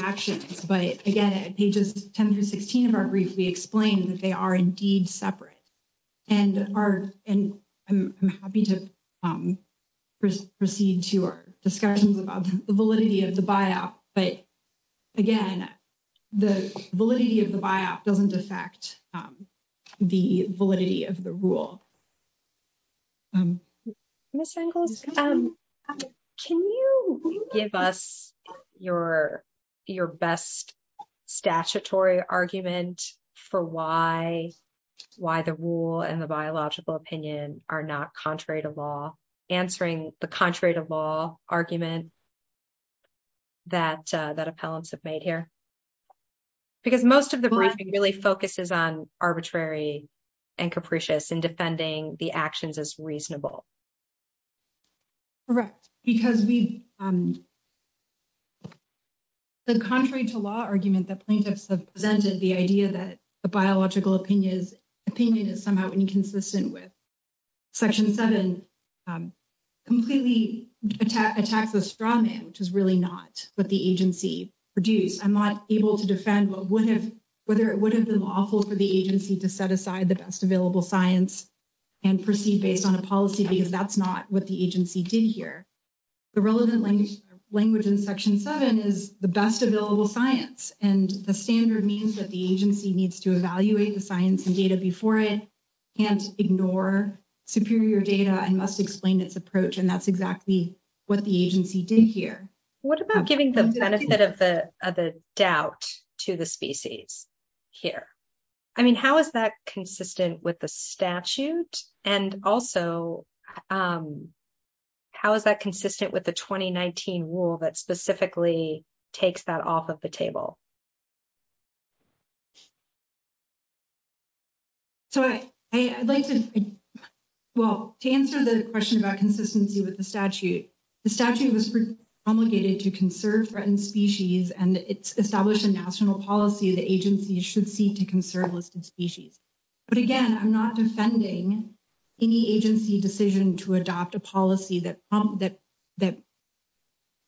actions. But again, at pages 10 to 16 of our brief, we explain that they are indeed separate. And I'm happy to proceed to our discussion about the validity of the buyout. But again, the validity of the buyout doesn't affect the validity of the rule. Ms. Engels, can you give us your best statutory argument for why the rule and the biological opinion are not contrary to law? Answering the contrary to law argument that appellants have made here. Because most of the briefing really focuses on arbitrary and capricious and defending the actions as reasonable. Correct. Because the contrary to law argument that plaintiffs have presented, the idea that the biological opinion is somehow inconsistent with section seven, completely attacked the straw man, which is really not what the agency produced. I'm not able to defend whether it would have been lawful for the agency to set aside the best available science and proceed based on a policy because that's not what the agency did here. The relevant language in section seven is the best available science. And the standard means that the agency needs to evaluate the science and data before it and ignore superior data and must explain this approach. And that's exactly what the agency did here. What about giving the benefit of the doubt to the species here? I mean, how is that consistent with the statute? And also, how is that consistent with the 2019 rule that specifically takes that off of the table? So I'd like to, well, to answer the question about consistency with the statute, the statute was promulgated to conserve threatened species and it's established a national policy the agency should seek to conserve listed species. But again, I'm not defending any agency decision to adopt a policy that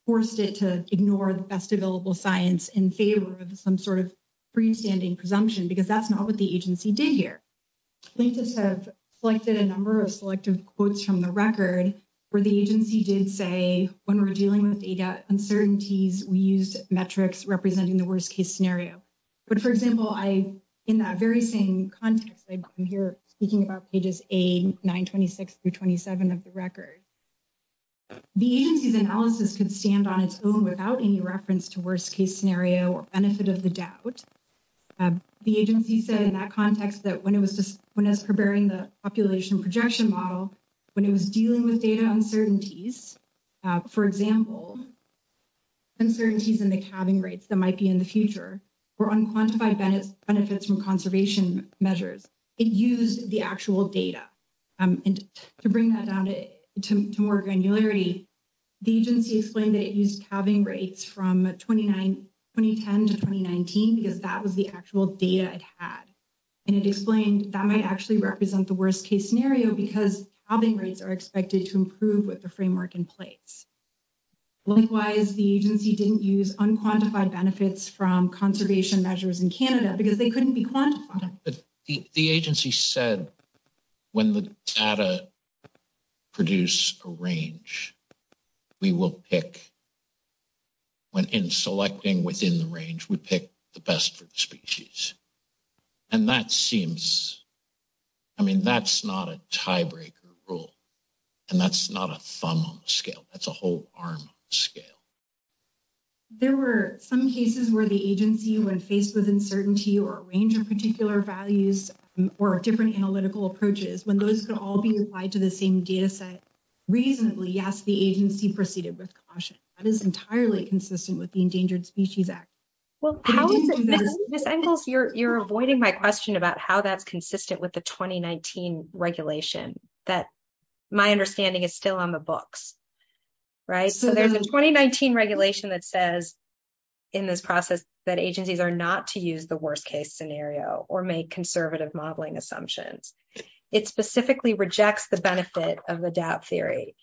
forced it to ignore the best available science in favor of some sort of freestanding presumption because that's not what the agency did here. I think this has collected a number of selective quotes from the record where the agency did say when we're dealing with data uncertainties, we used metrics representing the worst case scenario. But for example, in that very same context, I'm here speaking about pages A, 926 through 27 of the record. The agency's analysis could stand on its own without any reference to worst case scenario or benefit of the doubt. The agency said in that context that when it was preparing the population projection model, when it was dealing with data uncertainties, for example, uncertainties in the counting rates that might be in the future or unquantified benefits from conservation measures, it used the actual data. And to bring that down to more granularity, the agency explained that it used calving rates from 2010 to 2019 because that was the actual data it had. And it explained that might actually represent the worst case scenario because calving rates are expected to improve with the framework in place. Likewise, the agency didn't use unquantified benefits from conservation measures in Canada because they couldn't be quantified. But the agency said when the data produce a range, we will pick, when in selecting within the range, we pick the best for the species. And that seems, I mean, that's not a tiebreaker rule and that's not a thumb on the scale. That's a whole arm scale. There were some cases where the agency was faced with uncertainty or a range of particular values or different analytical approaches when those could all be applied to the same data set. Reasonably, yes, the agency proceeded with caution. That is entirely consistent with the Endangered Species Act. Well, how is it? Ms. Engels, you're avoiding my question about how that's consistent with the 2019 regulation that my understanding is still on the books, right? So there's a 2019 regulation that says in this process that agencies are not to use the worst case scenario or make conservative modeling assumptions. It specifically rejects the benefit of the doubt theory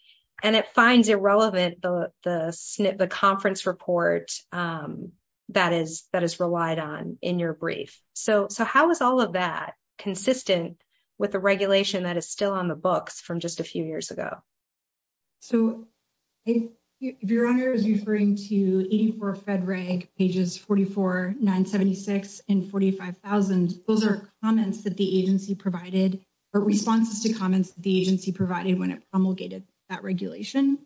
and it finds irrelevant the conference report that is relied on in your brief. So how is all of that consistent with the regulation that is still on the books from just a few years ago? So if your honor is referring to 84 Fed Reg pages 44, 976 and 45,000, those are comments that the agency provided or responses to comments the agency provided when it promulgated that regulation.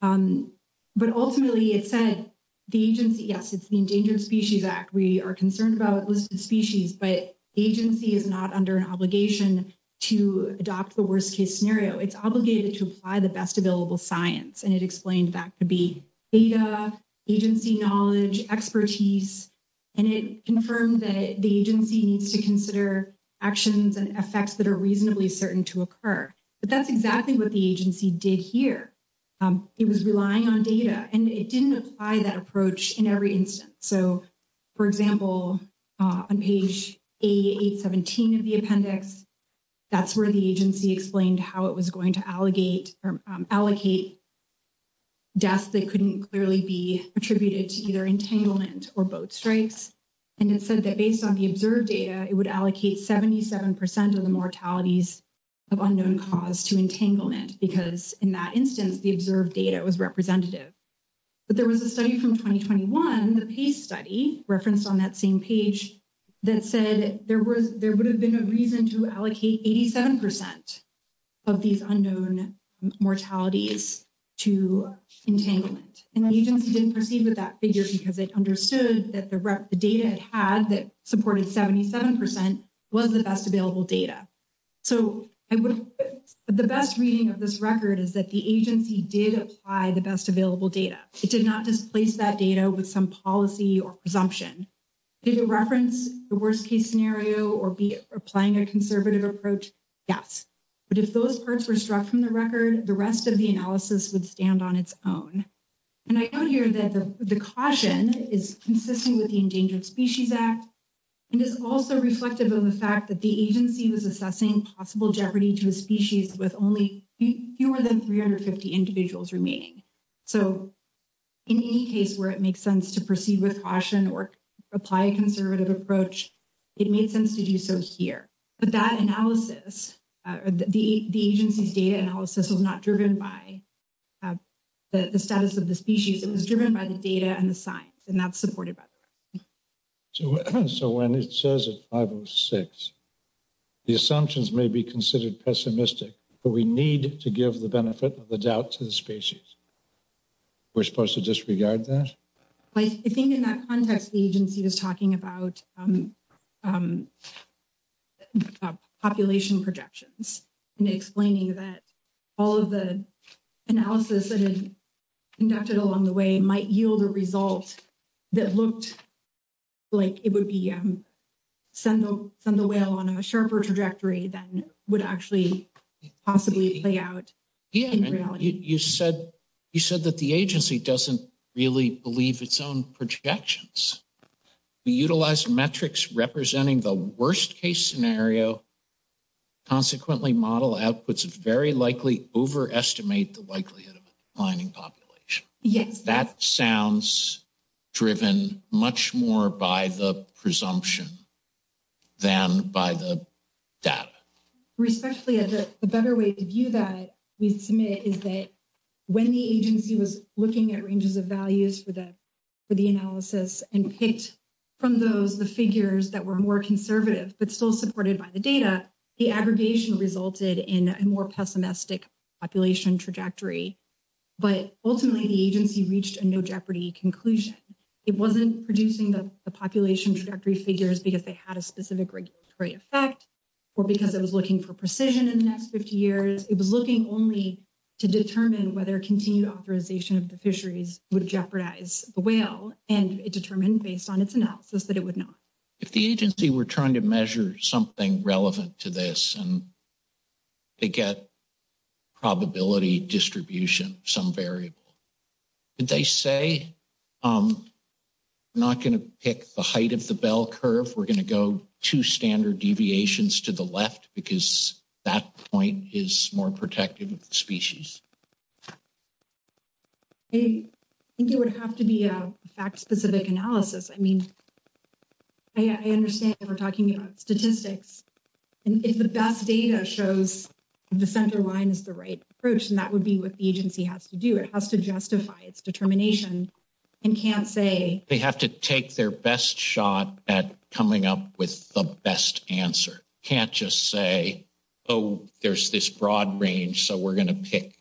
But ultimately it said the agency, yes, it's the Endangered Species Act. We are concerned about listed species, but agency is not under an obligation to adopt the worst case scenario. It's obligated to apply the best available science. And it explained that to be data, agency knowledge, expertise, and it confirmed that the agency needs to consider actions and effects that are reasonably certain to occur. But that's exactly what the agency did here. It was relying on data and it didn't apply that approach in every instance. So for example, on page 8817 of the appendix, that's where the agency explained how it was going to allocate deaths that couldn't clearly be attributed to either entanglement or both strikes. And it said that based on the observed data, it would allocate 77% of the mortalities of unknown cause to entanglement because in that instance, the observed data was representative. But there was a study from 2021, the page study referenced on that same page that said there would have been a reason to allocate 87%. Of these unknown mortalities to entanglement. And the agency didn't proceed with that figure because it understood that the data it had that supported 77% was the best available data. So the best reading of this record is that the agency did apply the best available data. It did not just place that data with some policy or presumption. Did it reference the worst case scenario or be applying a conservative approach? Yes. But if those parts were struck from the record, the rest of the analysis would stand on its own. And I know here that the caution is consistent with the Endangered Species Act. And it's also reflective of the fact that the agency was assessing possible jeopardy to a species with only fewer than 350 individuals remaining. So in any case where it makes sense to proceed with caution or apply a conservative approach, it makes sense to do so here. But that analysis, the agency's data analysis was not driven by the status of the species. It was driven by the data and the science. And that's supported by this. So when it says it's 506, the assumptions may be considered pessimistic, but we need to give the benefit of the doubt to the species. We're supposed to disregard that? I think in that contract, the agency was talking about population projections and explaining that all of the analysis that is conducted along the way might yield a result that looked like it would be send the whale on a sharper trajectory than would actually possibly play out. You said that the agency doesn't really believe its own projections. We utilize metrics representing the worst case scenario. Consequently, model outputs very likely overestimate the likelihood of finding population. That sounds driven much more by the presumption than by the data. Especially as a better way to view that we submit is that when the agency was looking at ranges of values for the analysis and picked from the figures that were more conservative, but still supported by the data, the aggravation resulted in a more pessimistic population trajectory. Ultimately, the agency reached a no jeopardy conclusion. It wasn't producing the population trajectory figures because they had a specific regulatory effect or because it was looking for precision in the next 50 years. It was looking only to determine whether continued authorization of the fisheries would jeopardize the whale and it determined based on its analysis that it would not. If the agency were trying to measure something relevant to this and they get probability distribution, some variable, did they say, I'm not going to pick the height of the bell curve. We're going to go two standard deviations to the left because that point is more protective of the species. I think it would have to be a fact specific analysis. I mean, I understand we're talking about statistics and if the best data shows the center line is the right approach and that would be what the agency has to do. It has to justify its determination and can't say. They have to take their best shot at coming up with the best answer. Can't just say, oh, there's this broad range. So we're going to pick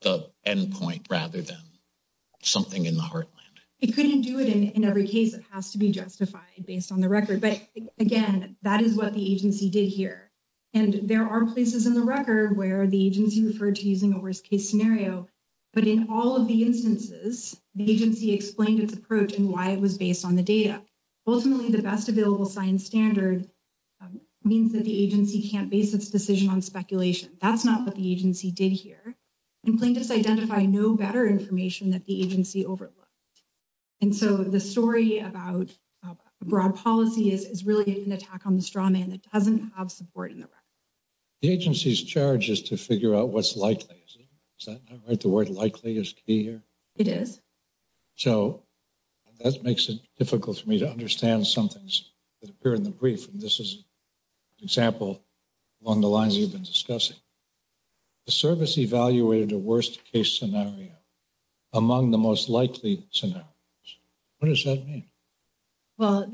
the end point rather than something in the heartland. It couldn't do it in every case. It has to be justified based on the record. But again, that is what the agency did here. And there are places in the record where the agency referred to using a worst case scenario. But in all of the instances, the agency explained its approach and why it was based on the data. Ultimately, the best available science standard means that the agency can't base its decision on speculation. That's not what the agency did here. And plaintiffs identify no better information that the agency overlooked. And so the story about broad policy is really an attack on the strongman. It doesn't have support in the record. The agency's charge is to figure out what's likely. Is that right? The word likely is key here? It is. So that makes it difficult for me to understand somethings that appear in the brief. And this is an example on the lines we've been discussing. The service evaluated a worst case scenario among the most likely scenarios. What does that mean? Well,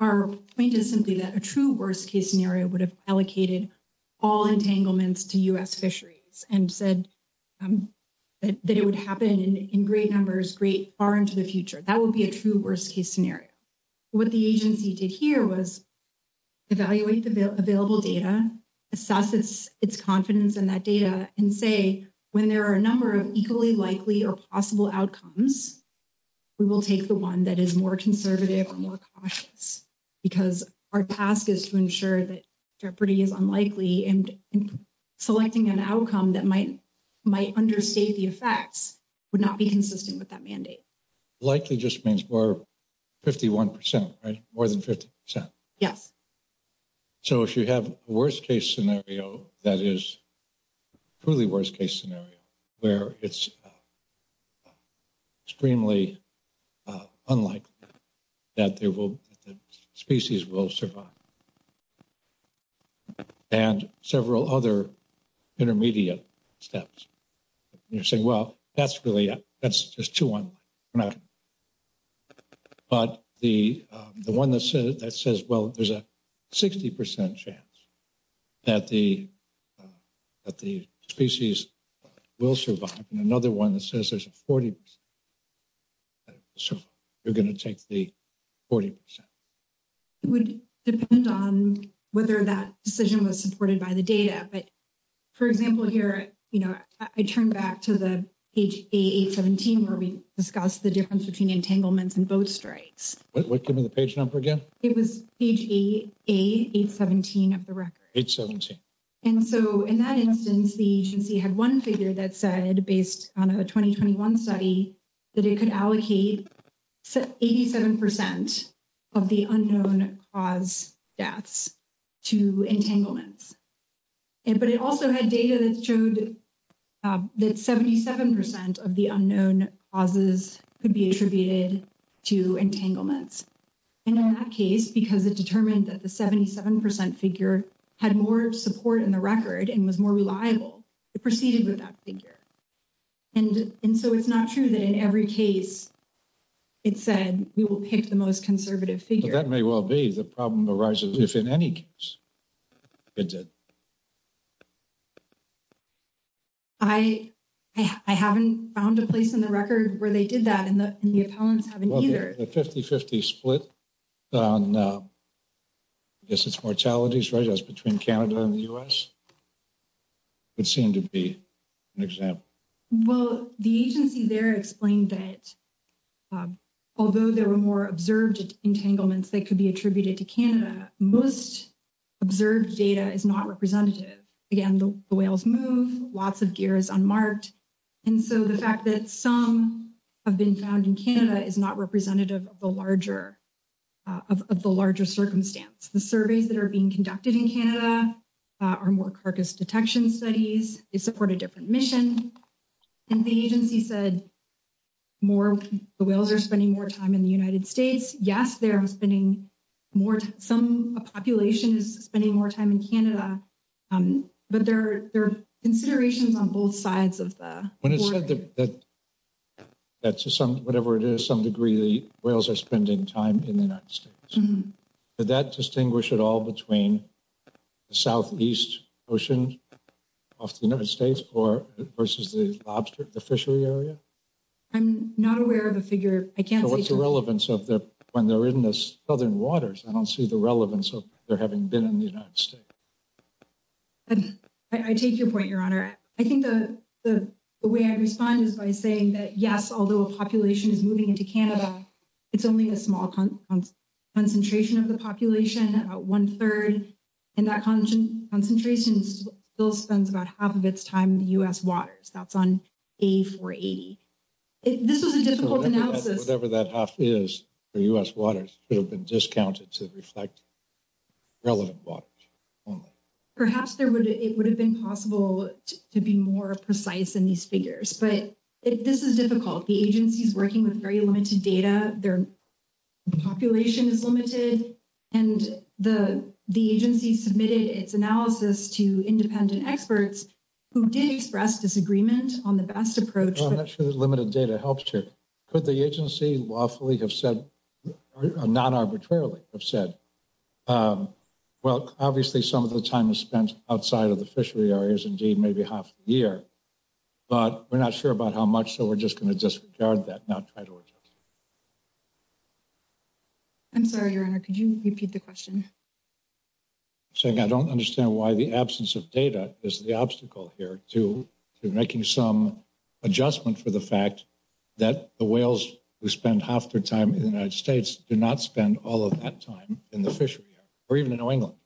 our point is simply that a true worst case scenario would have allocated all entanglements to U.S. fisheries and said that it would happen in great numbers, great far into the future. That would be a true worst case scenario. What the agency did here was evaluate the available data, assess its confidence in that data, and say when there are a number of equally likely or possible outcomes, we will take the one that is more conservative or more cautious. Because our task is to ensure that jeopardy is unlikely and selecting an outcome that might understate the effects would not be consistent with that mandate. Likely just means more than 51 percent, right? More than 50 percent. Yes. So if you have a worst case scenario that is truly worst case scenario where it's extremely unlikely that the species will survive and several other intermediate steps, you're saying, well, that's really, that's just too one. But the one that says, well, there's a 60 percent chance that the species will survive. And another one that says there's a 40 percent chance that the species will survive. You're going to take the 40 percent. It would depend on whether that decision was supported by the data. But for example, here, you know, I turn back to the page 817 where we discussed the difference between entanglements and both stripes. What page number again? It was page 817 of the record. Page 17. And so in that instance, the agency had one figure that said based on a 2021 study, that it could allocate 87 percent of the unknown cause deaths to entanglements. But it also had data that showed that 77 percent of the unknown causes could be attributed to entanglements. And in that case, because it determined that the 77 percent figure had more support in the record and was more reliable, it proceeded with that figure. And so it's not true that in every case it said we will pick the most conservative figure. That may well be the problem arises if in any case it did. I haven't found a place in the record where they did that and the opponents haven't either. The 50-50 split on I guess it's mortalities, right? That's between Canada and the U.S. It seemed to be an example. Well, the agency there explained that although there were more observed entanglements that could be attributed to Canada, most observed data is not representative. Again, the whales move, lots of gear is unmarked. And so the fact that some have been found in Canada is not representative of the larger of the larger circumstance. The surveys that are being conducted in Canada are more carcass detection studies. They support a different mission. And the agency said more whales are spending more time in the United States. Yes, they're spending more. Some population is spending more time in Canada. But there are considerations on both sides of the... When it's said that whatever it is, some degree whales are spending time in the United States. Did that distinguish at all between the southeast ocean of the United States or versus the lobster, the fishery area? I'm not aware of a figure. I can't... What's the relevance of the... When they're in the southern waters, I don't see the relevance of their having been in the United States. I take your point, Your Honor. I think the way I respond is by saying that, yes, although a population is moving into Canada, it's only a small concentration of the population. About one-third in that concentration still spends about half of its time in the U.S. waters. That's on A480. This is a difficult analysis. Whatever that half is, the U.S. waters could have been discounted to reflect relevant waters. Perhaps it would have been possible to be more precise in these figures. But this is difficult. The agency is working with very limited data. Their population is limited. And the agency submitted its analysis to independent experts who did express disagreement on the best approach. Well, that's true. Limited data helps too. Could the agency, lawfully have said, non-arbitrarily have said, well, obviously, some of the time is spent outside of the fishery areas, indeed, maybe half a year. But we're not sure about how much, so we're just going to disregard that, not try to... I'm sorry, Your Honor. Could you repeat the question? So I don't understand why the absence of data is the obstacle here to making some adjustment for the fact that the whales who spend half their time in the United States do not spend all of that time in the fishery, or even in oil.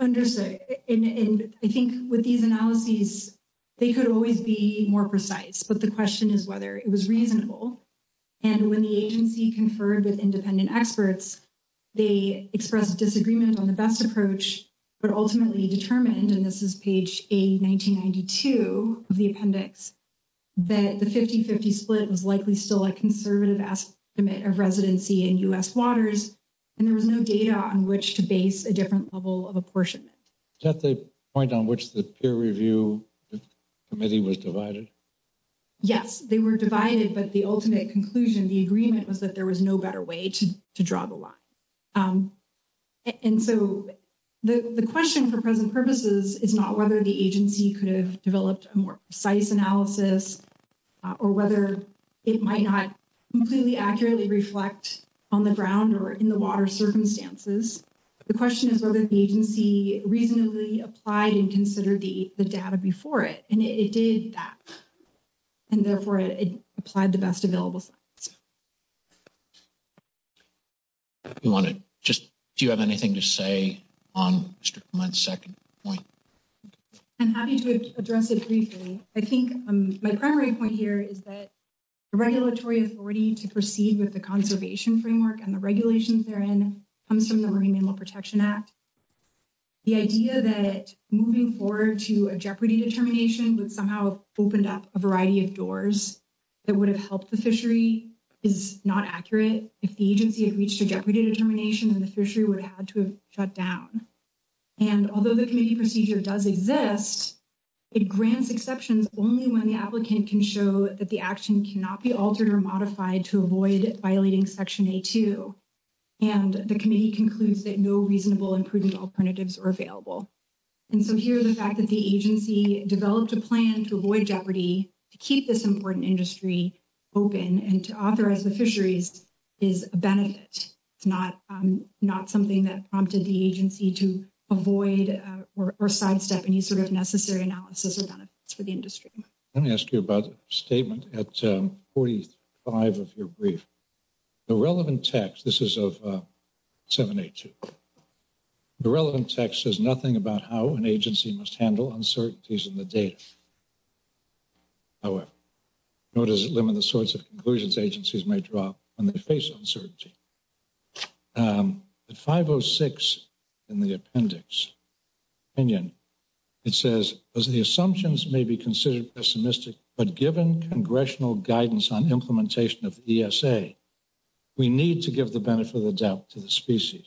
Understood. And I think with these analyses, they could always be more precise. But the question is whether it was reasonable. And when the agency conferred with independent experts, they expressed disagreement on the best approach, but ultimately determined, and this is page A1992 of the appendix, that the 50-50 split was likely still a conservative estimate of residency in U.S. waters, and there was no data on which to base a different level of apportionment. Is that the point on which the peer review committee was divided? Yes, they were divided, but the ultimate conclusion, the agreement, was that there was no better way to draw the line. And so the question for present purposes is not whether the agency could have developed a more precise analysis, or whether it might not completely accurately reflect on the ground or in the water circumstances. The question is whether the agency reasonably applied and considered the data before it, and it did that. And therefore, it applied the best available. Do you have anything to say on Mr. Clement's second point? I'm happy to address it briefly. I think my primary point here is that the regulatory authority to proceed with the conservation framework and the regulations they're in comes from the Marine Animal Protection Act. The idea that moving forward to a jeopardy determination would somehow open up a variety of doors that would have helped the fishery is not accurate if the agency had reached a jeopardy determination and the fishery would have to have shut down. And although the committee procedure does exist, it grants exceptions only when the applicant can show that the action cannot be altered or modified to avoid violating section A2. And the committee concludes that no reasonable and prudent alternatives are available. And so here's the fact that the agency developed a plan to avoid jeopardy to keep this important industry open and to authorize the fisheries is a benefit. It's not something that prompted the agency to avoid or sidestep any sort of necessary analysis or benefits for the industry. Let me ask you about the statement at 45 of your brief. The relevant text, this is of 782. The relevant text says nothing about how an agency must handle uncertainties in the data. However, notice that limited source of conversions agencies may drop when they face uncertainty. The 506 in the appendix opinion, it says, as the assumptions may be considered pessimistic, but given congressional guidance on implementation of ESA, we need to give the benefit of the doubt to the species.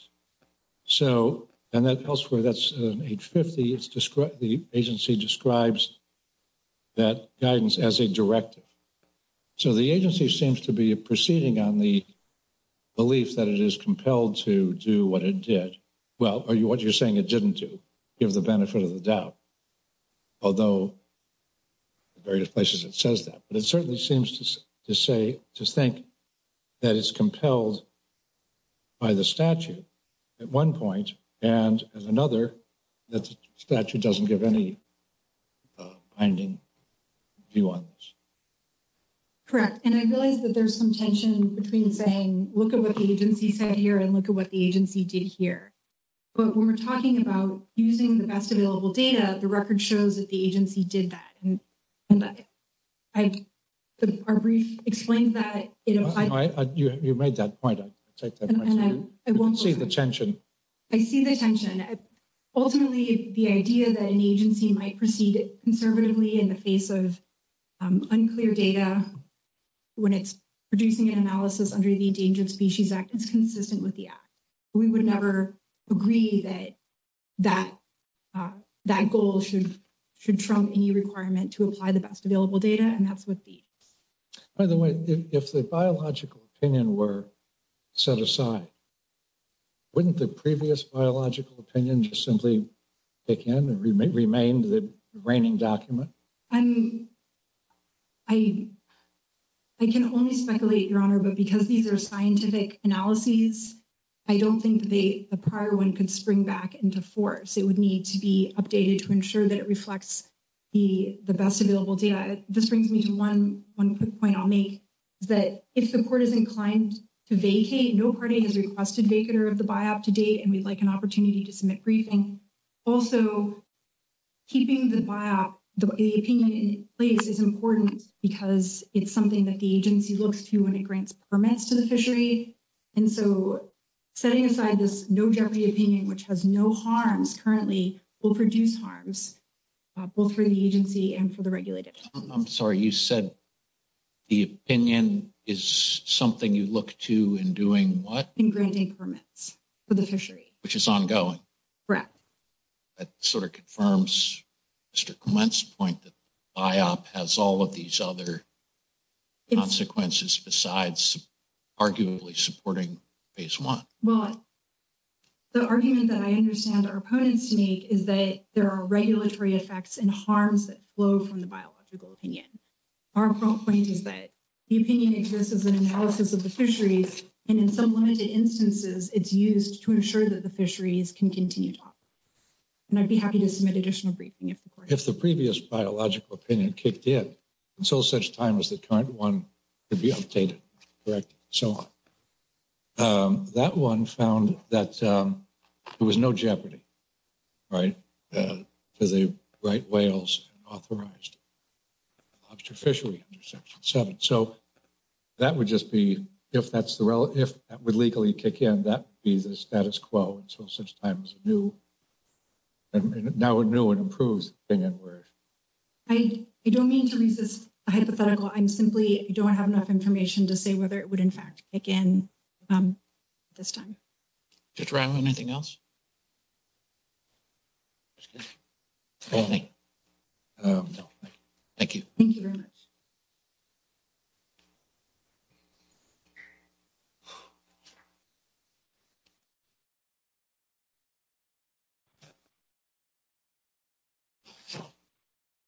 So, and that elsewhere, that's an age 50. The agency describes that guidance as a directive. So the agency seems to be proceeding on the belief that it is compelled to do what it did. Well, or what you're saying it didn't do, give the benefit of the doubt. Although, the various places it says that, but it certainly seems to say, to think that it's compelled by the statute at one point and another, that statute doesn't give any binding view on this. Correct. And I believe that there's some tension between saying, look at what the agency said here and look at what the agency did here. But when we're talking about using the best available data, the record shows that the agency did that. And our brief explains that. You made that point. I won't say the tension. I see the tension. Ultimately, the idea that an agency might proceed conservatively in the face of unclear data, when it's producing an analysis under the Endangered Species Act, it's consistent with the act. We would never agree that that goal should trump any requirement to apply the best available data. And that's what these. By the way, if the biological opinion were set aside, wouldn't the previous biological opinion just simply take in and remain the reigning document? And I can only speculate, Your Honor, but because these are scientific analyses, I don't think the prior one could spring back into force. It would need to be updated to ensure that it reflects the best available data. This brings me to one quick point I'll make, that if the court is inclined to vacate, no party has requested vacater of the biop to date, and we'd like an opportunity to submit briefing. Also, keeping the biop, the opinion in place is important because it's something that the agency looks to when it grants permits to the fishery. And so setting aside this no jeopardy opinion, which has no harms currently, will produce harms, both for the agency and for the regulators. I'm sorry, you said the opinion is something you look to in doing what? In granting permits for the fishery. Which is ongoing. Correct. That sort of confirms Mr. Clement's point that the biop has all of these other consequences, besides arguably supporting phase one. Well, the argument that I understand our opponents make is that there are regulatory effects and harms that flow from the biological opinion. Our point is that the opinion exerts as an analysis of the fisheries, and in some limited instances, it's used to ensure that the fisheries can continue to operate. And I'd be happy to submit additional briefing. If the previous biological opinion kicked in, and so such time as the current one could be updated, correct, and so on. That one found that there was no jeopardy, right? To the right whales authorized to fish in section seven. So that would just be, if that's the relevant, if that would legally kick in, that would be the status quo. And so such time. Who? Now we know it improves. I don't mean to use this hypothetical. I'm simply don't have enough information to say whether it would, in fact, again, this time. Thank you.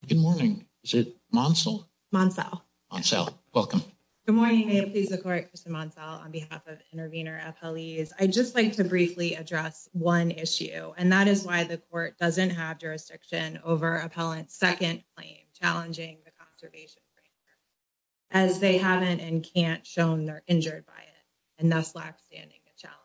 Good morning. Is it Monsal? Monsal. Monsal. Welcome. Good morning. May it please the court, Mr. Monsal, on behalf of intervener, appellees. I just like to briefly address one issue, and that is why the court doesn't have jurisdiction over appellant second claim, challenging the conservation. As they haven't and can't shown they're injured by it, and that's black standing the challenge.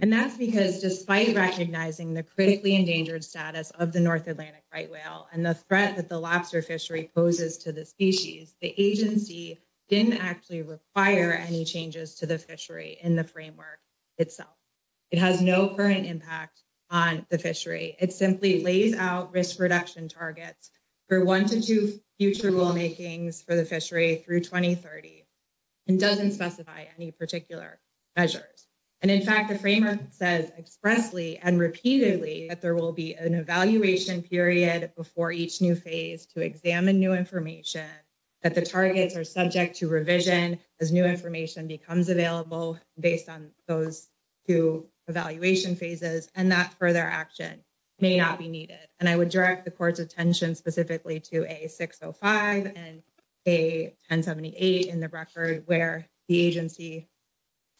And that's because despite recognizing the critically endangered status of the North Atlantic right whale and the threat that the lobster fishery poses to the species, the agency didn't actually require any changes to the fishery in the framework itself. It has no current impact on the fishery. It simply lays out risk reduction targets for one to two future rulemakings for the fishery through 2030 and doesn't specify any particular measures. And in fact, the framework says expressly and repeatedly that there will be an evaluation period before each new phase to examine new information that the targets are subject to revision as new information becomes available based on those two evaluation phases, and that further action may not be needed. And I would direct the court's attention specifically to a 605 and a 1078 in the record where the agency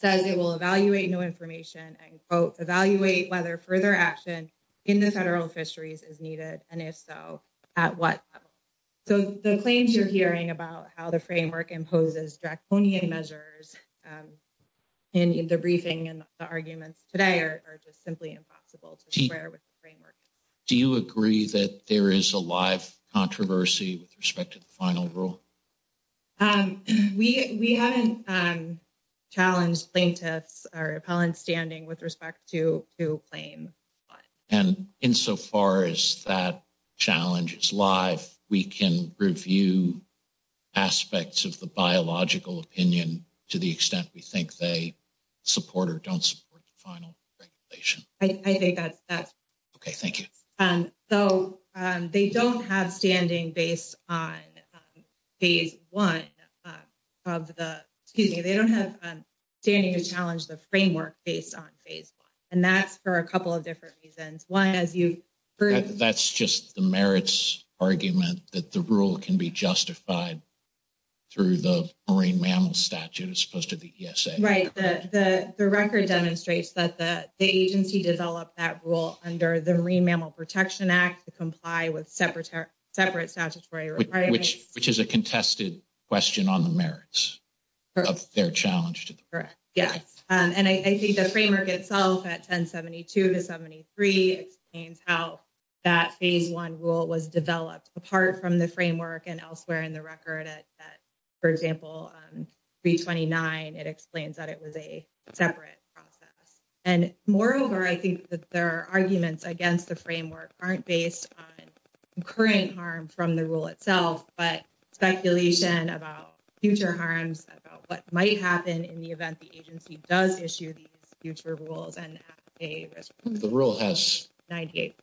says it will evaluate new information and quote, evaluate whether further action in the federal fisheries is needed, and if so, at what level. So the claims you're hearing about how the framework imposes draconian measures in the briefing and the arguments today are just simply impossible to share with the framework. Do you agree that there is a live controversy with respect to the final rule? We had challenged plaintiffs or appellants standing with respect to two claims. And insofar as that challenge is live, we can review aspects of the biological opinion to the extent we think they support or don't support the final regulation. I think that's okay. Thank you. So they don't have standing based on phase one of the, excuse me, they don't have standing to challenge the framework based on phase one. And that's for a couple of different reasons. One is you- That's just the merits argument that the rule can be justified through the Marine Mammal Statute as opposed to the ESA. Right. The record demonstrates that the agency developed that rule under the Marine Mammal Protection Act to comply with separate statutory requirements. Which is a contested question on the merits of their challenge. Correct. And I think the framework itself at 1072 to 1073, it explains how that phase one rule was developed apart from the framework and elsewhere in the record. For example, 329, it explains that it was a separate process. And moreover, I think that there are arguments against the framework aren't based on current harm from the rule itself, but speculation about future harms about what might happen in the event the agency does issue these future rules. And the rule has 98%.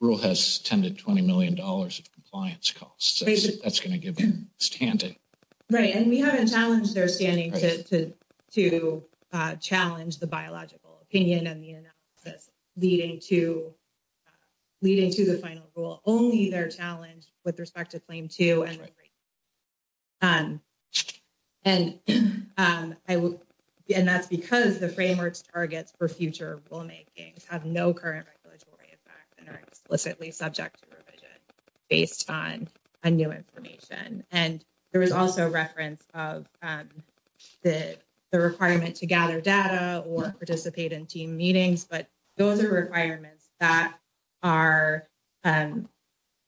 The rule has 10 to $20 million of compliance costs. That's going to give them standing. Right. And we haven't challenged their standing to challenge the biological opinion and the analysis leading to the final rule. Only their challenge with respect to claim two. And that's because the framework's targets for future rulemaking have no current regulatory impact and are explicitly subject to revision based on a new information. And there is also reference of the requirement to gather data or participate in team meetings. But those are requirements that are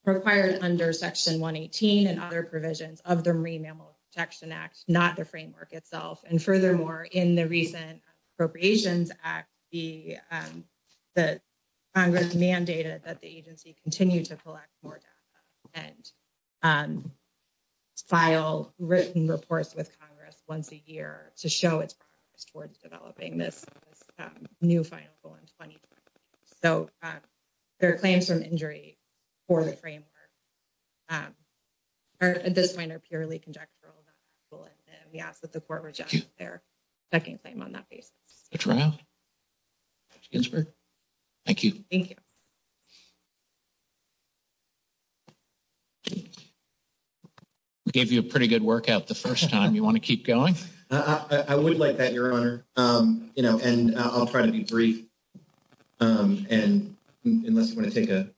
required under section 118 and other provisions of the Marine Mammal Protection Act, not the framework itself. And furthermore, in the recent Appropriations Act, the Congress mandated that the agency continue to collect more data and file written reports with Congress once a year to show its progress towards developing this new final rule in 2020. So there are claims from injury for the framework. At this point, they're purely conjectural. Yeah, but the court rejected their second claim on that. Thank you. We gave you a pretty good workout the first time. You want to keep going? I would like that, Your Honor. And I'll try to be brief. And unless you want to take a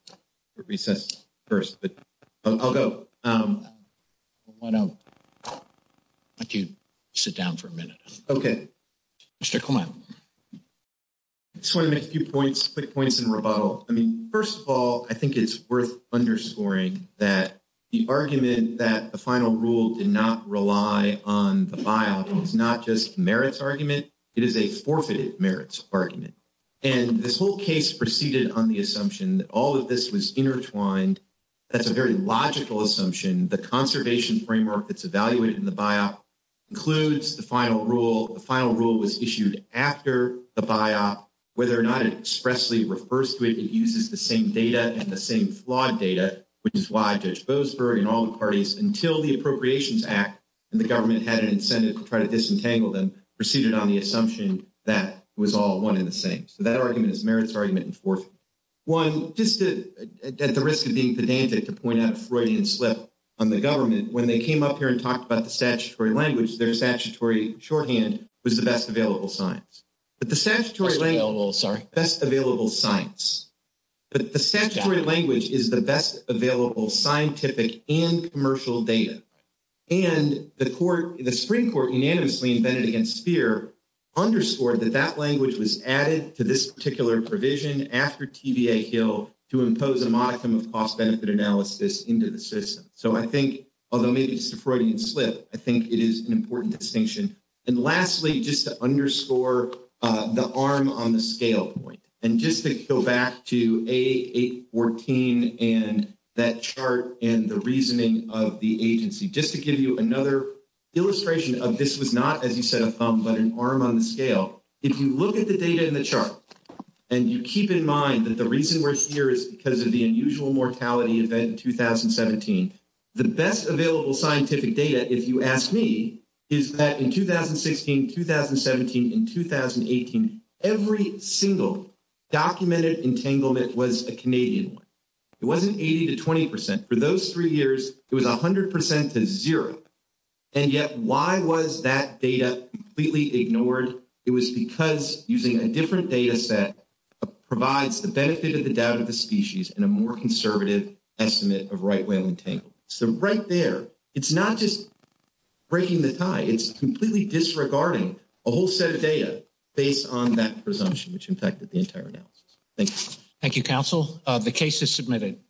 recess first, but I'll go. I want to let you sit down for a minute. Okay. Mr. Coleman. Just want to make a few points, quick points in rebuttal. I mean, first of all, I think it's worth underscoring that the argument that the final rule did not rely on the file is not just a merits argument. It is a forfeited merits argument. And this whole case proceeded on the assumption that all of this was intertwined. That's a very logical assumption. The conservation framework that's evaluated in the biop includes the final rule. The final rule was issued after the biop, whether or not it expressly refers to it, it uses the same data and the same flawed data, which is why Judge Boasberg and all the parties until the Appropriations Act and the government had an incentive to try to disentangle them, proceeded on the assumption that was all one in the same. So that argument is merits argument in fourth. One, just at the risk of being pedantic to point out Freudian slip on the government. When they came up here and talked about the statutory language, their statutory shorthand was the best available science. But the statutory language available, sorry, best available science. But the statutory language is the best available scientific and commercial data. And the court, the Supreme Court unanimously invented against fear, underscored that that language was added to this particular provision after TVA Hill to impose a modicum of cost benefit analysis into the system. So I think, although maybe it's Freudian slip, I think it is an important distinction. And lastly, just to underscore the arm on the scale and just to go back to A814 and that chart and the reasoning of the agency, just to give you another illustration of this was not, as you said, a thumb, but an arm on the scale. If you look at the data in the chart and you keep in mind that the reason we're here is because of the unusual mortality event in 2017, the best available scientific data, if you ask me, is that in 2016, 2017, and 2018, every single documented entanglement was a Canadian one. It wasn't 80 to 20%. For those three years, it was 100% to zero. And yet why was that data completely ignored? It was because using a different data set provides the benefit of the doubt of the species and a more conservative estimate of right-wing entanglement. So right there, it's not just breaking the tie. It's completely disregarding a whole set of data based on that presumption, which infected the entire data. Thank you. Thank you, counsel. The case is submitted.